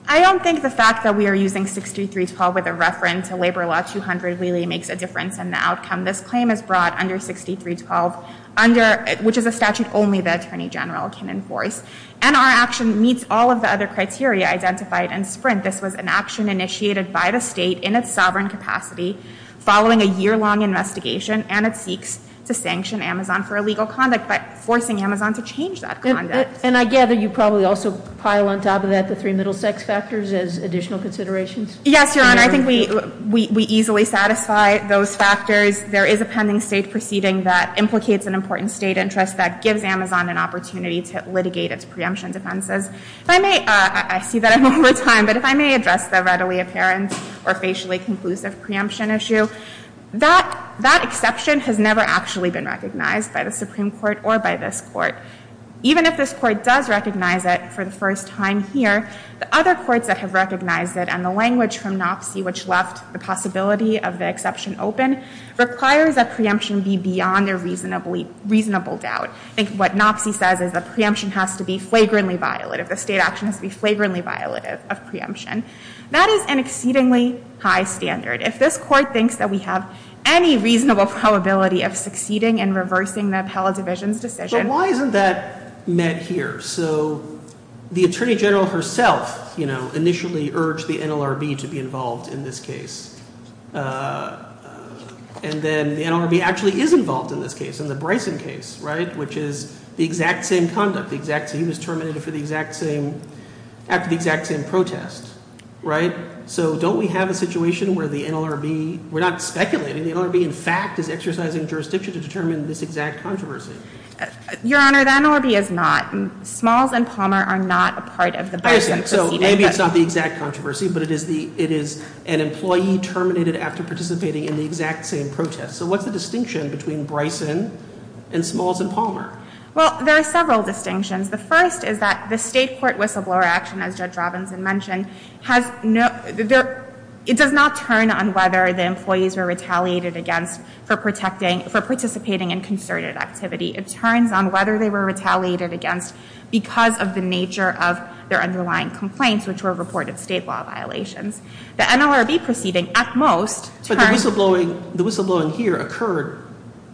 I don't think the fact that we are using 6312 with a reference to Labor Law 200 really makes a difference in the outcome. This claim is brought under 6312 under, which is a statute only the Attorney General can enforce. And our action meets all of the other criteria identified in Sprint. This was an action initiated by the State in its sovereign capacity following a year-long investigation, and it seeks to sanction Amazon for illegal conduct by forcing Amazon to change that conduct. And I gather you probably also pile on top of that the three middle sex factors as additional considerations? Yes, Your Honor. And I think we easily satisfy those factors. There is a pending state proceeding that implicates an important state interest that gives Amazon an opportunity to litigate its preemption defenses. If I may, I see that I'm over time, but if I may address the readily apparent or facially conclusive preemption issue, that exception has never actually been recognized by the Supreme Court or by this Court. Even if this Court does recognize it for the first time here, the other courts that have recognized it and the language from NOPC, which left the possibility of the exception open, requires that preemption be beyond a reasonable doubt. I think what NOPC says is that preemption has to be flagrantly violative. The state action has to be flagrantly violative of preemption. That is an exceedingly high standard. If this Court thinks that we have any reasonable probability of succeeding in reversing the appellate division's decision, why isn't that met here? So the Attorney General herself initially urged the NLRB to be involved in this case. And then the NLRB actually is involved in this case, in the Bryson case, right? Which is the exact same conduct, the exact same, he was terminated for the exact same, after the exact same protest, right? So don't we have a situation where the NLRB, we're not speculating, the NLRB in fact is exercising jurisdiction to determine this exact controversy? Your Honor, the NLRB is not. Smalls and Palmer are not a part of the Bryson proceeding. So maybe it's not the exact controversy, but it is an employee terminated after participating in the exact same protest. So what's the distinction between Bryson and Smalls and Palmer? Well, there are several distinctions. The first is that the state court whistleblower action, as Judge Robinson mentioned, it does not turn on whether the employees were retaliated against for participating in concerted activity. It turns on whether they were retaliated against because of the nature of their underlying complaints, which were reported state law violations. The NLRB proceeding, at most, turns- But the whistleblowing here occurred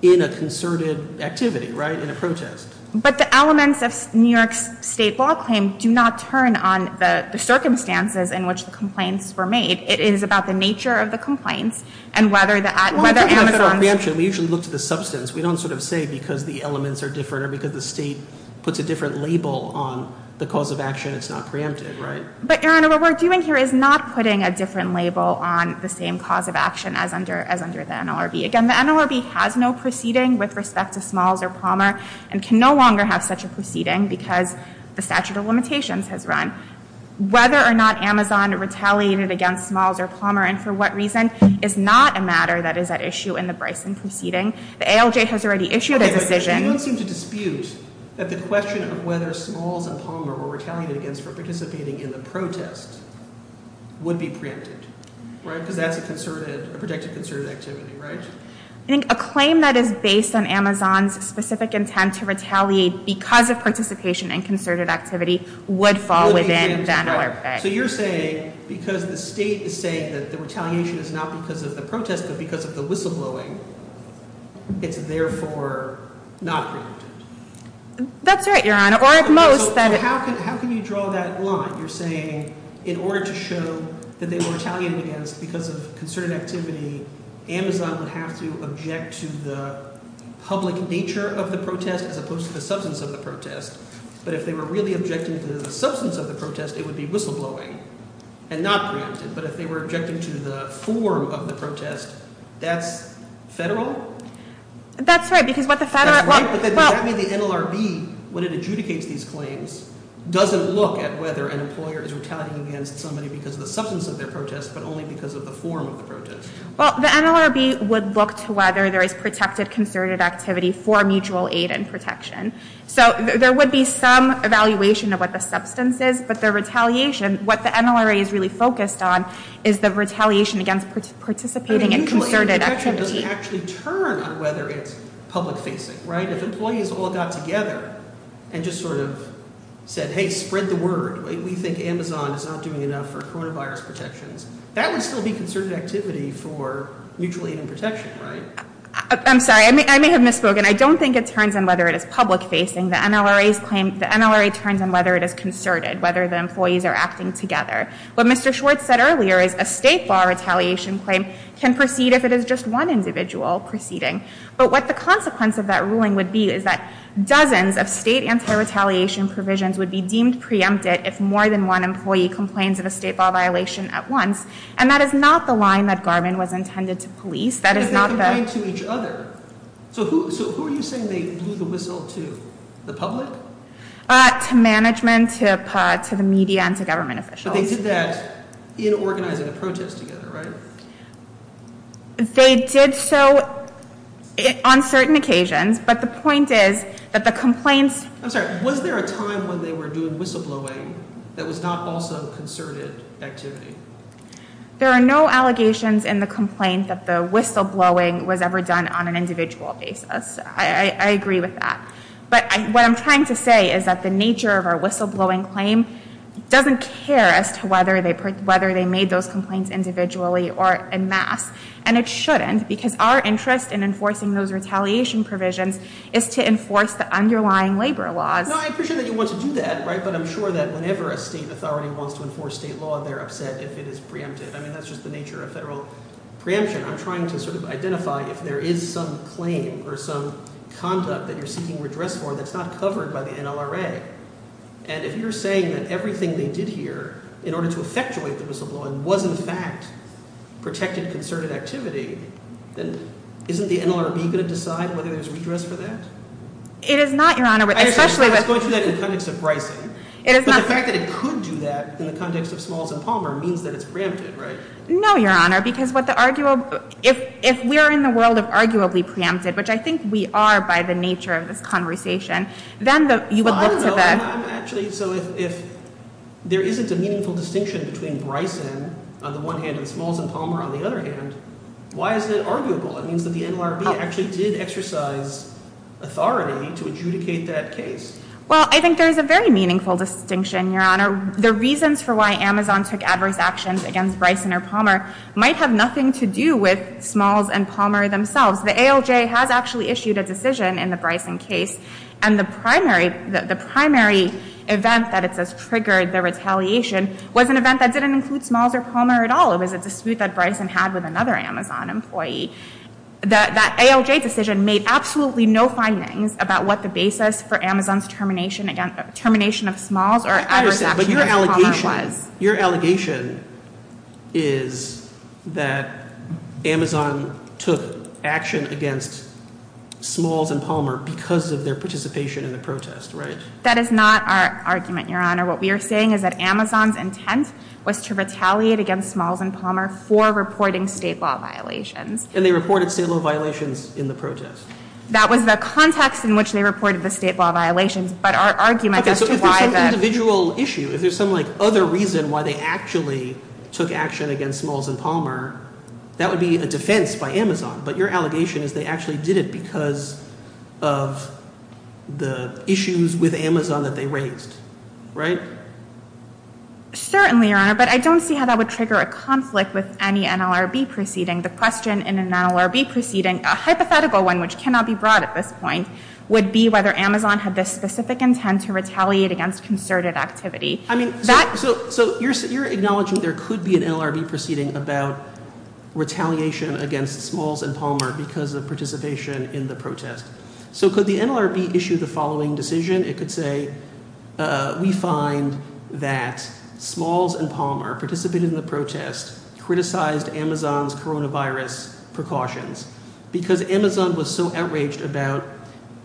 in a concerted activity, right? In a protest. But the elements of New York's state law claim do not turn on the circumstances in which the complaints were made. It is about the nature of the complaints, and whether Amazon- The elements are different, or because the state puts a different label on the cause of action, it's not preempted, right? But, Your Honor, what we're doing here is not putting a different label on the same cause of action as under the NLRB. Again, the NLRB has no proceeding with respect to Smalls or Palmer, and can no longer have such a proceeding because the statute of limitations has run. Whether or not Amazon retaliated against Smalls or Palmer, and for what reason, is not a matter that is at issue in the Bryson proceeding. The ALJ has already issued a decision- Okay, but you don't seem to dispute that the question of whether Smalls and Palmer were retaliated against for participating in the protest would be preempted, right? Because that's a concerted, a protected concerted activity, right? I think a claim that is based on Amazon's specific intent to retaliate because of participation in concerted activity would fall within the NLRB. So you're saying, because the state is saying that the retaliation is not because of the protest, but because of the whistleblowing, it's therefore not preempted. That's right, Your Honor, or at most that- How can you draw that line? You're saying, in order to show that they were retaliated against because of concerted activity, Amazon would have to object to the public nature of the protest as opposed to the substance of the protest. But if they were really objecting to the substance of the protest, it would be whistleblowing and not preempted. But if they were objecting to the form of the protest, that's federal? That's right, because what the federal- But that means the NLRB, when it adjudicates these claims, doesn't look at whether an employer is retaliating against somebody because of the substance of their protest, but only because of the form of the protest. Well, the NLRB would look to whether there is protected concerted activity for mutual aid and protection. So there would be some evaluation of what the substance is, but the retaliation, what the NLRB is really focused on, is the retaliation against participating in concerted activity. I mean, mutual aid and protection doesn't actually turn on whether it's public facing, right? If employees all got together and just sort of said, hey, spread the word, we think Amazon is not doing enough for coronavirus protections, that would still be concerted activity for mutual aid and protection, right? I'm sorry, I may have misspoken. I don't think it turns on whether it is public facing. The NLRA's claim, the NLRA turns on whether it is concerted, whether the employees are acting together. What Mr. Schwartz said earlier is a state bar retaliation claim can proceed if it is just one individual proceeding. But what the consequence of that ruling would be is that dozens of state anti-retaliation provisions would be deemed preempted if more than one employee complains of a state bar violation at once. And that is not the line that Garvin was intended to police. That is not the- Because they complain to each other. So who are you saying they blew the whistle to, the public? To management, to the media, and to government officials. But they did that in organizing a protest together, right? They did so on certain occasions. But the point is that the complaints- I'm sorry, was there a time when they were doing whistleblowing that was not also concerted activity? There are no allegations in the complaint that the whistleblowing was ever done on an individual basis. I agree with that. But what I'm trying to say is that the nature of our whistleblowing claim doesn't care as to whether they made those complaints individually or en masse. And it shouldn't because our interest in enforcing those retaliation provisions is to enforce the underlying labor laws. Now I appreciate that you want to do that, right? But I'm sure that whenever a state authority wants to enforce state law, they're upset if it is preempted. I mean, that's just the nature of federal preemption. I'm trying to sort of identify if there is some claim or some conduct that you're seeking redress for that's not covered by the NLRA. And if you're saying that everything they did here in order to effectuate the whistleblowing was in fact protected concerted activity, then isn't the NLRB going to decide whether there's redress for that? It is not, Your Honor. I understand that it's going to do that in the context of Bryson. But the fact that it could do that in the context of Smalls and Palmer means that it's preempted, right? No, Your Honor, because if we are in the world of arguably preempted, which I think we are by the nature of this conversation, then you would look to the— I don't know. Actually, so if there isn't a meaningful distinction between Bryson on the one hand and Smalls and Palmer on the other hand, why is it arguable? It means that the NLRB actually did exercise authority to adjudicate that case. Well, I think there is a very meaningful distinction, Your Honor. The reasons for why Amazon took adverse actions against Bryson or Palmer might have nothing to do with Smalls and Palmer themselves. The ALJ has actually issued a decision in the Bryson case. And the primary event that it says triggered the retaliation was an event that didn't include Smalls or Palmer at all. It was a dispute that Bryson had with another Amazon employee. That ALJ decision made absolutely no findings about what the basis for Amazon's termination of Smalls or adverse actions against Palmer was. But your allegation is that Amazon took action against Smalls and Palmer because of their participation in the protest, right? That is not our argument, Your Honor. What we are saying is that Amazon's intent was to retaliate against Smalls and Palmer for reporting state law violations. And they reported state law violations in the protest. That was the context in which they reported the state law violations. But our argument as to why that... Okay, so if there's some individual issue, if there's some other reason why they actually took action against Smalls and Palmer, that would be a defense by Amazon. But your allegation is they actually did it because of the issues with Amazon that they raised, right? Certainly, Your Honor. But I don't see how that would trigger a conflict with any NLRB proceeding. The question in an NLRB proceeding, a hypothetical one which cannot be brought at this point, would be whether Amazon had this specific intent to retaliate against concerted activity. I mean, so you're acknowledging there could be an NLRB proceeding about retaliation against Smalls and Palmer because of participation in the protest. So could the NLRB issue the following decision? It could say, we find that Smalls and Palmer participated in the protest, criticized Amazon's coronavirus precautions. Because Amazon was so outraged about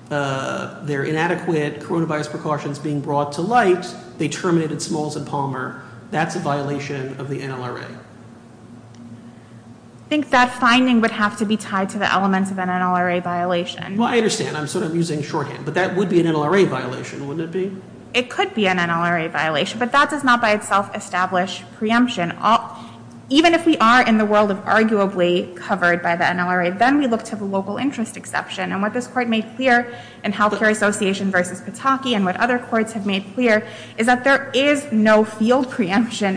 their inadequate coronavirus precautions being brought to light, they terminated Smalls and Palmer. That's a violation of the NLRA. I think that finding would have to be tied to the elements of an NLRA violation. Well, I understand. I'm sort of using shorthand. But that would be an NLRA violation, wouldn't it be? It could be an NLRA violation. But that does not by itself establish preemption. Even if we are in the world of arguably covered by the NLRA, then we look to the local interest exception. And what this Court made clear in Healthcare Association v. Pataki and what other courts have made clear is that there is no field preemption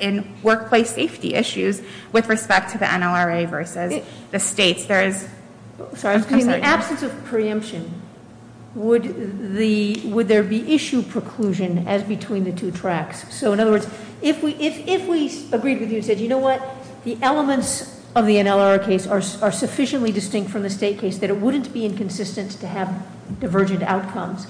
in workplace safety issues with respect to the NLRA v. the states. There is. Sorry, I'm sorry. In the absence of preemption, would there be issue preclusion as between the two tracks? So in other words, if we agreed with you and said, you know what? The elements of the NLR case are sufficiently distinct from the state case that it wouldn't be inconsistent to have divergent outcomes.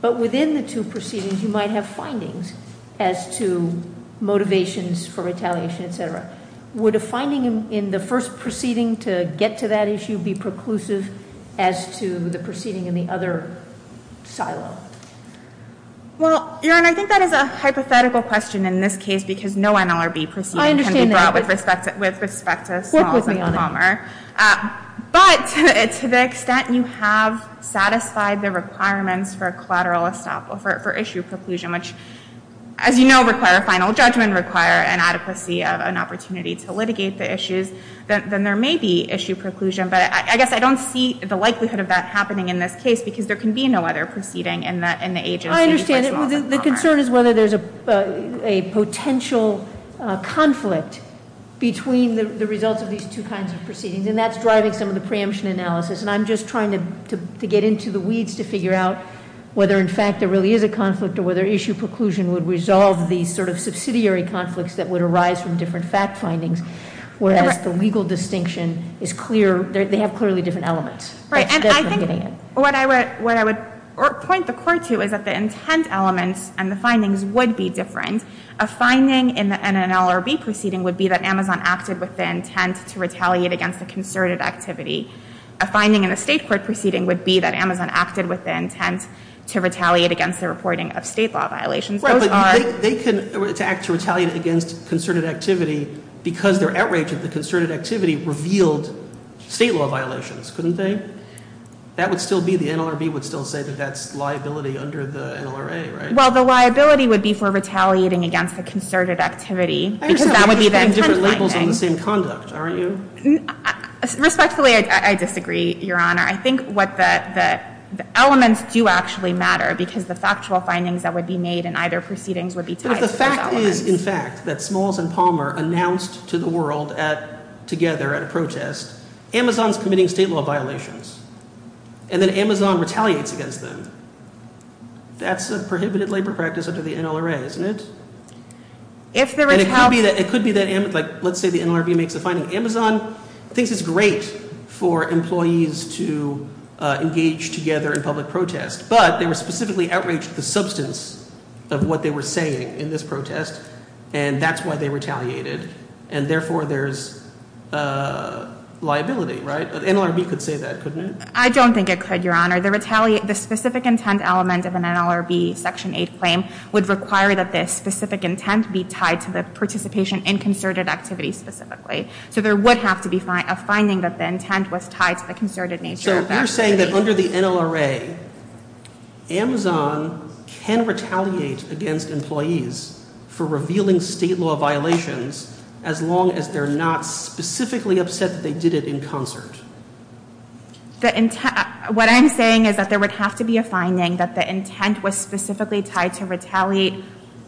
But within the two proceedings, you might have findings as to motivations for retaliation, etc. Would a finding in the first proceeding to get to that issue be preclusive as to the proceeding in the other silo? Well, Your Honor, I think that is a hypothetical question in this case because no NLRB proceeding can be brought with respect to Smalls and Palmer. But to the extent you have satisfied the requirements for collateral estoppel, for issue preclusion, which, as you know, require a final judgment, require an adequacy of an opportunity to litigate the issues, then there may be issue preclusion. But I guess I don't see the likelihood of that happening in this case, because there can be no other proceeding in the agency- I understand, the concern is whether there's a potential conflict between the results of these two kinds of proceedings, and that's driving some of the preemption analysis. And I'm just trying to get into the weeds to figure out whether, in fact, there really is a conflict or whether issue preclusion would resolve the sort of subsidiary conflicts that would arise from different fact findings. Whereas the legal distinction is clear, they have clearly different elements. Right, and I think what I would point the court to is that the intent elements and the findings would be different. A finding in an NLRB proceeding would be that Amazon acted with the intent to retaliate against a concerted activity. A finding in a state court proceeding would be that Amazon acted with the intent to retaliate against the reporting of state law violations. Those are- They can, to act to retaliate against concerted activity because they're outraged that the concerted activity revealed state law violations, couldn't they? That would still be, the NLRB would still say that that's liability under the NLRA, right? Well, the liability would be for retaliating against a concerted activity, because that would be the intent finding. You're putting different labels on the same conduct, aren't you? Respectfully, I disagree, Your Honor. I think what the elements do actually matter, because the factual findings that would be made in either proceedings would be tied to those elements. But if the fact is, in fact, that Smalls and Palmer announced to the world together at a protest, Amazon's committing state law violations, and then Amazon retaliates against them, that's a prohibited labor practice under the NLRA, isn't it? And it could be that Amazon, let's say the NLRB makes a finding. Amazon thinks it's great for employees to engage together in public protest. But they were specifically outraged at the substance of what they were saying in this protest, and that's why they retaliated. And therefore, there's liability, right? The NLRB could say that, couldn't it? I don't think it could, Your Honor. The specific intent element of an NLRB Section 8 claim would require that this specific intent be tied to the participation in concerted activities specifically. So there would have to be a finding that the intent was tied to the concerted nature of activities. So you're saying that under the NLRA, Amazon can retaliate against employees for revealing state law violations as long as they're not specifically upset that they did it in concert. What I'm saying is that there would have to be a finding that the intent was specifically tied to retaliate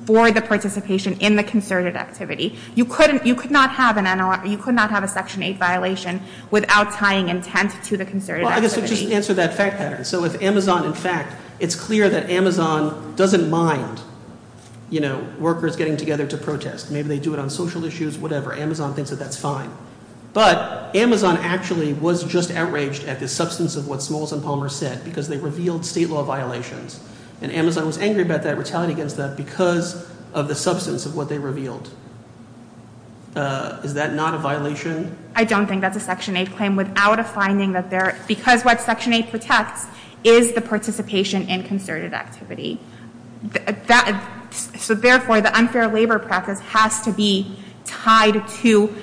for the participation in the concerted activity. You could not have a Section 8 violation without tying intent to the concerted activity. Well, I guess I'll just answer that fact pattern. So if Amazon, in fact, it's clear that Amazon doesn't mind workers getting together to protest. Maybe they do it on social issues, whatever. Amazon thinks that that's fine. But Amazon actually was just outraged at the substance of what Smalls and Palmer said, because they revealed state law violations. And Amazon was angry about that, retaliating against that, because of the substance of what they revealed. Is that not a violation? I don't think that's a Section 8 claim without a finding that there, because what Section 8 protects is the participation in concerted activity. So therefore, the unfair labor practice has to be tied to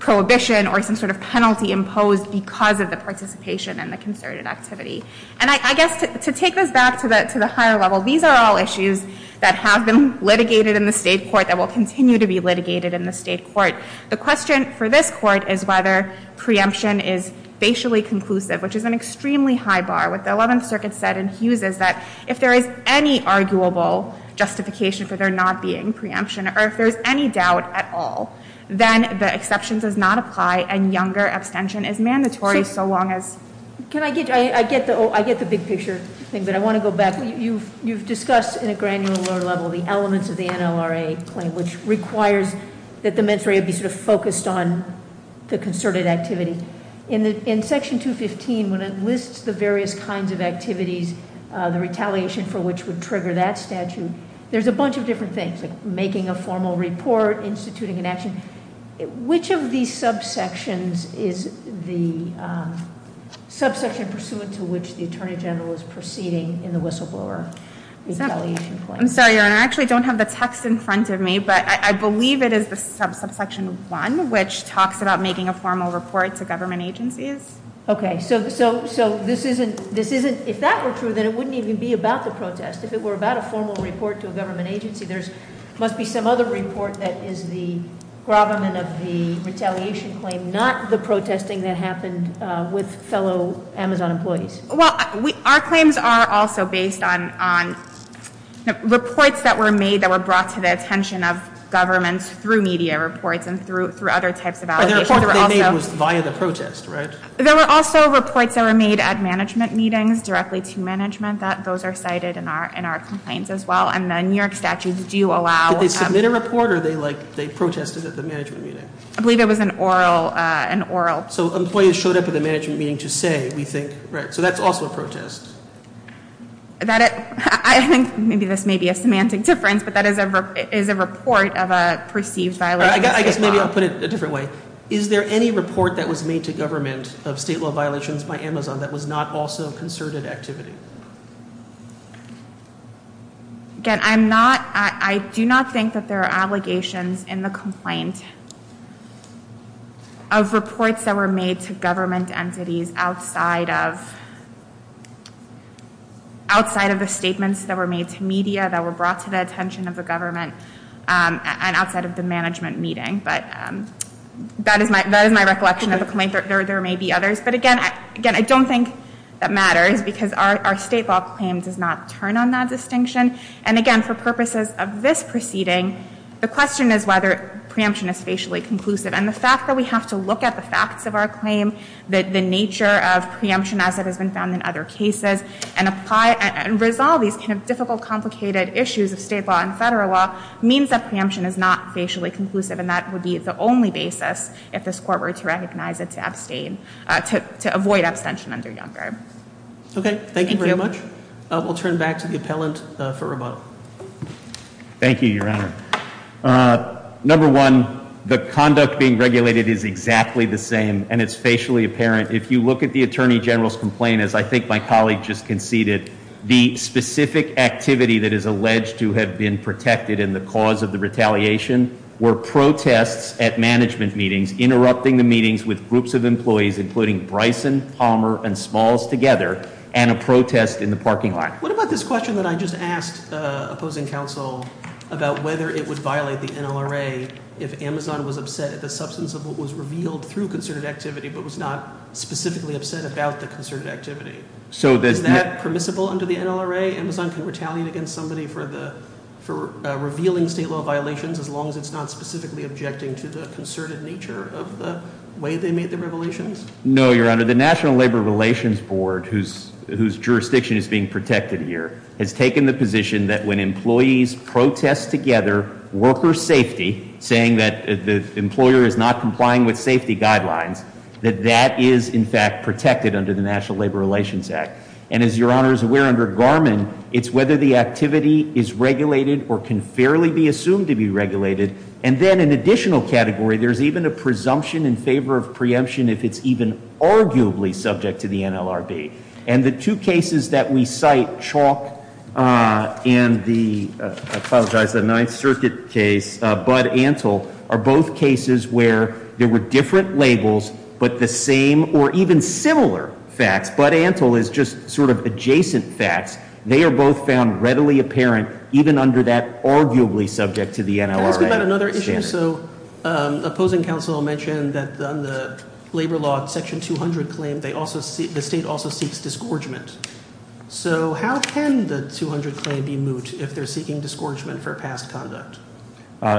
prohibition or some sort of penalty imposed because of the participation in the concerted activity. And I guess to take this back to the higher level, these are all issues that have been litigated in the state court that will continue to be litigated in the state court. The question for this court is whether preemption is facially conclusive, which is an extremely high bar. What the 11th Circuit said in Hughes is that if there is any arguable justification for there not being preemption, or if there's any doubt at all, then the exception does not apply. And younger abstention is mandatory so long as- Can I get, I get the big picture thing, but I want to go back. You've discussed in a granular level the elements of the NLRA claim, which requires that the mens rea be sort of focused on the concerted activity. In section 215, when it lists the various kinds of activities, the retaliation for which would trigger that statute, there's a bunch of different things, like making a formal report, instituting an action. Which of these subsections is the subsection pursuant to which the Attorney General is proceeding in the whistleblower retaliation claim? I'm sorry, Your Honor, I actually don't have the text in front of me, but I believe it is the subsection one, which talks about making a formal report to government agencies. Okay, so this isn't, if that were true, then it wouldn't even be about the protest. If it were about a formal report to a government agency, there must be some other report that is the gravamen of the retaliation claim, not the protesting that happened with fellow Amazon employees. Well, our claims are also based on reports that were made that were brought to the attention of governments through media reports and through other types of allegations. The report they made was via the protest, right? There were also reports that were made at management meetings, directly to management, that those are cited in our complaints as well. And the New York statutes do allow- Did they submit a report or they protested at the management meeting? I believe it was an oral. So employees showed up at the management meeting to say, we think, right. So that's also a protest. I think maybe this may be a semantic difference, but that is a report of a perceived violation of state law. I guess maybe I'll put it a different way. Is there any report that was made to government of state law violations by Amazon that was not also concerted activity? Again, I'm not, I do not think that there are allegations in the complaint of reports that were made to government entities outside of outside of the statements that were made to media that were brought to the attention of the government and outside of the management meeting, but that is my, that is my recollection of the complaint. There may be others, but again, again, I don't think that matters because our state law claim does not turn on that distinction. And again, for purposes of this proceeding, the question is whether preemption is facially conclusive. And the fact that we have to look at the facts of our claim, the nature of preemption as it has been found in other cases, and apply, and resolve these kind of difficult, complicated issues of state law and federal law, means that preemption is not facially conclusive, and that would be the only basis if this court were to recognize it to abstain, to avoid abstention under Youngberg. Okay, thank you very much. We'll turn back to the appellant for rebuttal. Thank you, your honor. Number one, the conduct being regulated is exactly the same, and it's facially apparent. If you look at the Attorney General's complaint, as I think my colleague just conceded, the specific activity that is alleged to have been protected in the cause of the retaliation, were protests at management meetings, interrupting the meetings with groups of employees, including Bryson, Palmer, and Smalls together, and a protest in the parking lot. What about this question that I just asked opposing counsel about whether it would violate the NLRA if Amazon was upset at the substance of what was revealed through concerted activity, but was not specifically upset about the concerted activity? Is that permissible under the NLRA? Amazon can retaliate against somebody for revealing state law violations as long as it's not specifically objecting to the concerted nature of the way they made the revelations? No, your honor. The National Labor Relations Board, whose jurisdiction is being protected here, has taken the position that when employees protest together worker safety, saying that the employer is not complying with safety guidelines, that that is, in fact, protected under the National Labor Relations Act. And as your honor is aware, under Garmin, it's whether the activity is regulated or can fairly be assumed to be regulated. And then an additional category, there's even a presumption in favor of preemption if it's even arguably subject to the NLRB. And the two cases that we cite, Chalk and the, I apologize, the Ninth Circuit case, Bud Antle, are both cases where there were different labels, but the same or even similar facts, Bud Antle is just sort of adjacent facts. They are both found readily apparent, even under that arguably subject to the NLRB. Can I ask about another issue? So opposing counsel mentioned that on the labor law section 200 claim, the state also seeks disgorgement. So how can the 200 claim be moot if they're seeking disgorgement for past conduct?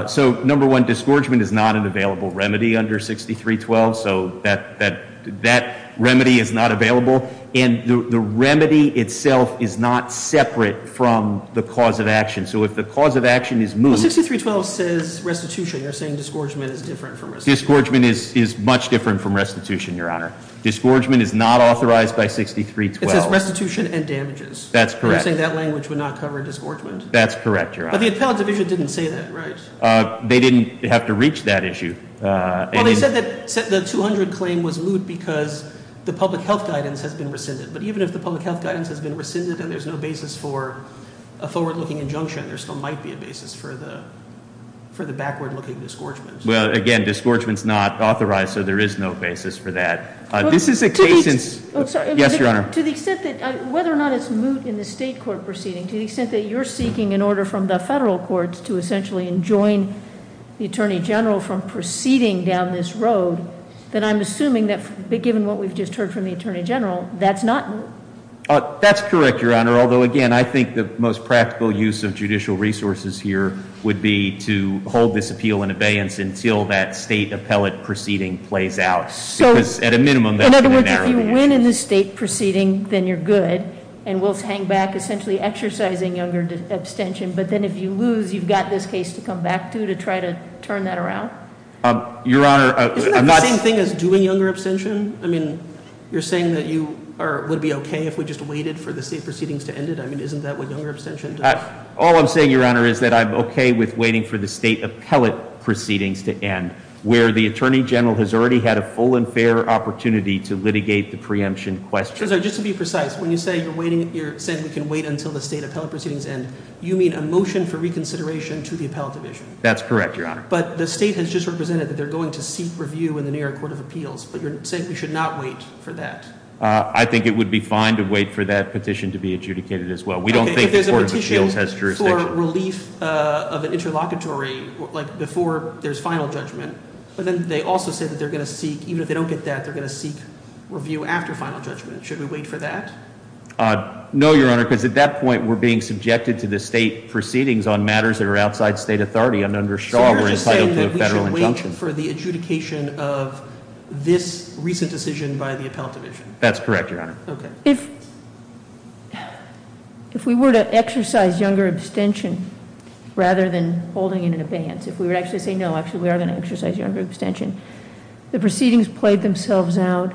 So number one, disgorgement is not an available remedy under 6312, so that remedy is not available. And the remedy itself is not separate from the cause of action. So if the cause of action is moot- 6312 says restitution, you're saying disgorgement is different from restitution. Disgorgement is much different from restitution, your honor. Disgorgement is not authorized by 6312. It says restitution and damages. That's correct. You're saying that language would not cover disgorgement? That's correct, your honor. But the appellate division didn't say that, right? They didn't have to reach that issue. Well, they said that the 200 claim was moot because the public health guidance has been rescinded. But even if the public health guidance has been rescinded and there's no basis for a forward-looking injunction, there still might be a basis for the backward-looking disgorgement. Well, again, disgorgement's not authorized, so there is no basis for that. This is a case since, yes, your honor. To the extent that, whether or not it's moot in the state court proceeding, to the extent that you're seeking an order from the federal courts to essentially enjoin the attorney general from proceeding down this road, then I'm assuming that given what we've just heard from the attorney general, that's not moot. That's correct, your honor, although again, I think the most practical use of judicial resources here would be to hold this appeal in abeyance until that state appellate proceeding plays out. Because at a minimum, that's going to be narrowed down. In other words, if you win in the state proceeding, then you're good. And we'll hang back, essentially exercising younger abstention. But then if you lose, you've got this case to come back to, to try to turn that around? Your honor, I'm not- Isn't that the same thing as doing younger abstention? I mean, you're saying that you would be okay if we just waited for the state proceedings to end it? I mean, isn't that what younger abstention does? All I'm saying, your honor, is that I'm okay with waiting for the state appellate proceedings to end, where the attorney general has already had a full and fair opportunity to litigate the preemption question. Mr. Cesar, just to be precise, when you say you're saying we can wait until the state appellate proceedings end, you mean a motion for reconsideration to the appellate division? That's correct, your honor. But the state has just represented that they're going to seek review in the New York Court of Appeals, but you're saying we should not wait for that? I think it would be fine to wait for that petition to be adjudicated as well. We don't think the Court of Appeals has jurisdiction. If there's a petition for relief of an interlocutory, like before there's final judgment, but then they also said that they're going to seek, even if they don't get that, they're going to seek review after final judgment. Should we wait for that? No, your honor, because at that point, we're being subjected to the state proceedings on matters that are outside state authority. I'm not sure- So you're just saying that we should wait for the adjudication of this recent decision by the appellate division? That's correct, your honor. Okay. If we were to exercise younger abstention rather than holding it in advance, if we were to actually say no, actually we are going to exercise younger abstention, the proceedings played themselves out.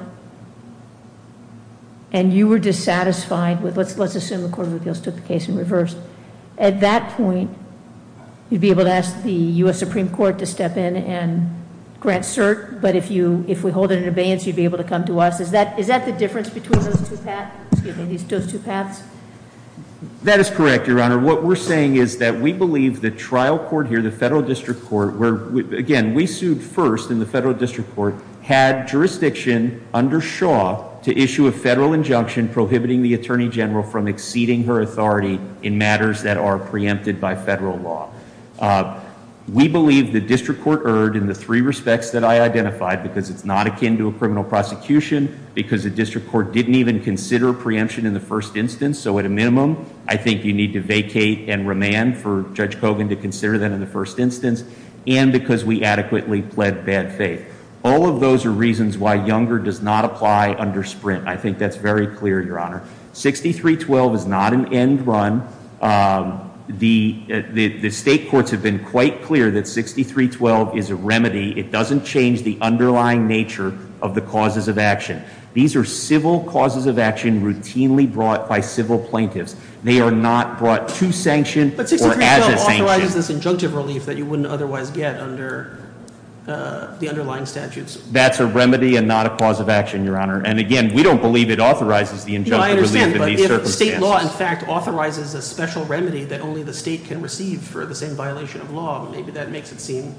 And you were dissatisfied with, let's assume the Court of Appeals took the case in reverse. At that point, you'd be able to ask the US Supreme Court to step in and grant cert. But if we hold it in abeyance, you'd be able to come to us. Is that the difference between those two paths? That is correct, your honor. Your honor, what we're saying is that we believe the trial court here, the federal district court, again, we sued first in the federal district court, had jurisdiction under Shaw to issue a federal injunction prohibiting the attorney general from exceeding her authority in matters that are preempted by federal law. We believe the district court erred in the three respects that I identified, because it's not akin to a criminal prosecution, because the district court didn't even consider preemption in the first instance. So at a minimum, I think you need to vacate and remand for Judge Kogan to consider that in the first instance. And because we adequately pled bad faith. All of those are reasons why younger does not apply under Sprint. I think that's very clear, your honor. 6312 is not an end run. The state courts have been quite clear that 6312 is a remedy. It doesn't change the underlying nature of the causes of action. These are civil causes of action routinely brought by civil plaintiffs. They are not brought to sanction or as a sanction. But 6312 authorizes this injunctive relief that you wouldn't otherwise get under the underlying statutes. That's a remedy and not a cause of action, your honor. And again, we don't believe it authorizes the injunctive relief in these circumstances. I understand, but if state law in fact authorizes a special remedy that only the state can receive for the same violation of law, maybe that makes it seem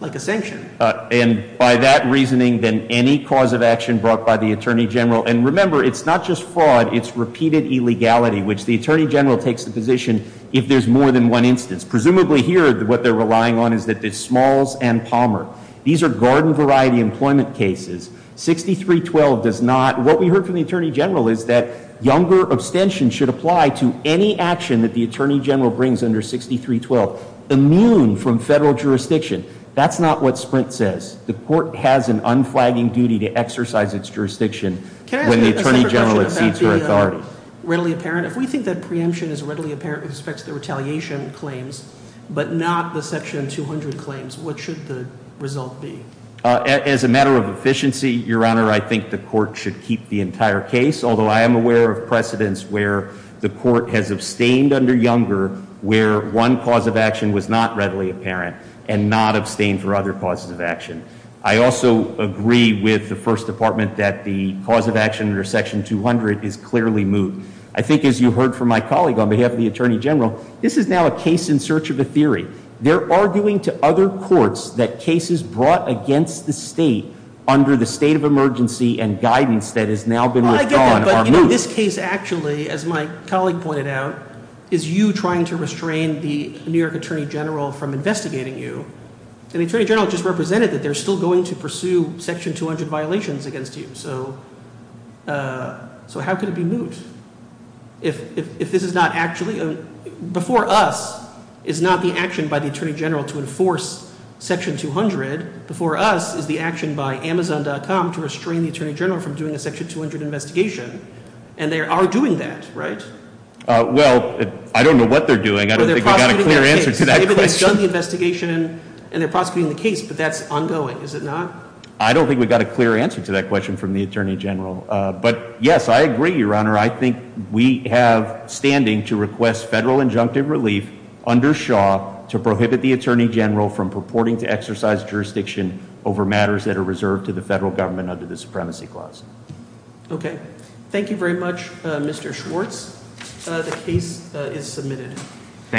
like a sanction. And by that reasoning, then any cause of action brought by the Attorney General. And remember, it's not just fraud, it's repeated illegality, which the Attorney General takes the position if there's more than one instance. Presumably here, what they're relying on is that the Smalls and Palmer. These are garden variety employment cases. 6312 does not, what we heard from the Attorney General is that younger abstention should apply to any action that the Attorney General brings under 6312, immune from federal jurisdiction. That's not what Sprint says. The court has an unflagging duty to exercise its jurisdiction when the Attorney General exceeds her authority. Really apparent, if we think that preemption is readily apparent with respect to the retaliation claims, but not the section 200 claims, what should the result be? As a matter of efficiency, your honor, I think the court should keep the entire case. Although I am aware of precedents where the court has abstained under Younger, where one cause of action was not readily apparent and not abstained for other causes of action. I also agree with the first department that the cause of action under section 200 is clearly moved. I think as you heard from my colleague on behalf of the Attorney General, this is now a case in search of a theory. They're arguing to other courts that cases brought against the state under the state of emergency and guidance that has now been withdrawn are moved. And in this case actually, as my colleague pointed out, is you trying to restrain the New York Attorney General from investigating you. And the Attorney General just represented that they're still going to pursue section 200 violations against you. So how could it be moved if this is not actually, before us is not the action by the Attorney General to enforce section 200. Before us is the action by Amazon.com to restrain the Attorney General from doing a section 200 investigation. And they are doing that, right? Well, I don't know what they're doing. I don't think we got a clear answer to that question. They've done the investigation and they're prosecuting the case, but that's ongoing, is it not? I don't think we got a clear answer to that question from the Attorney General. But yes, I agree, your honor. I think we have standing to request federal injunctive relief under Shaw to prohibit the Attorney General from purporting to exercise jurisdiction over matters that are reserved to the federal government under the Supremacy Clause. Okay, thank you very much, Mr. Schwartz. The case is submitted. Thank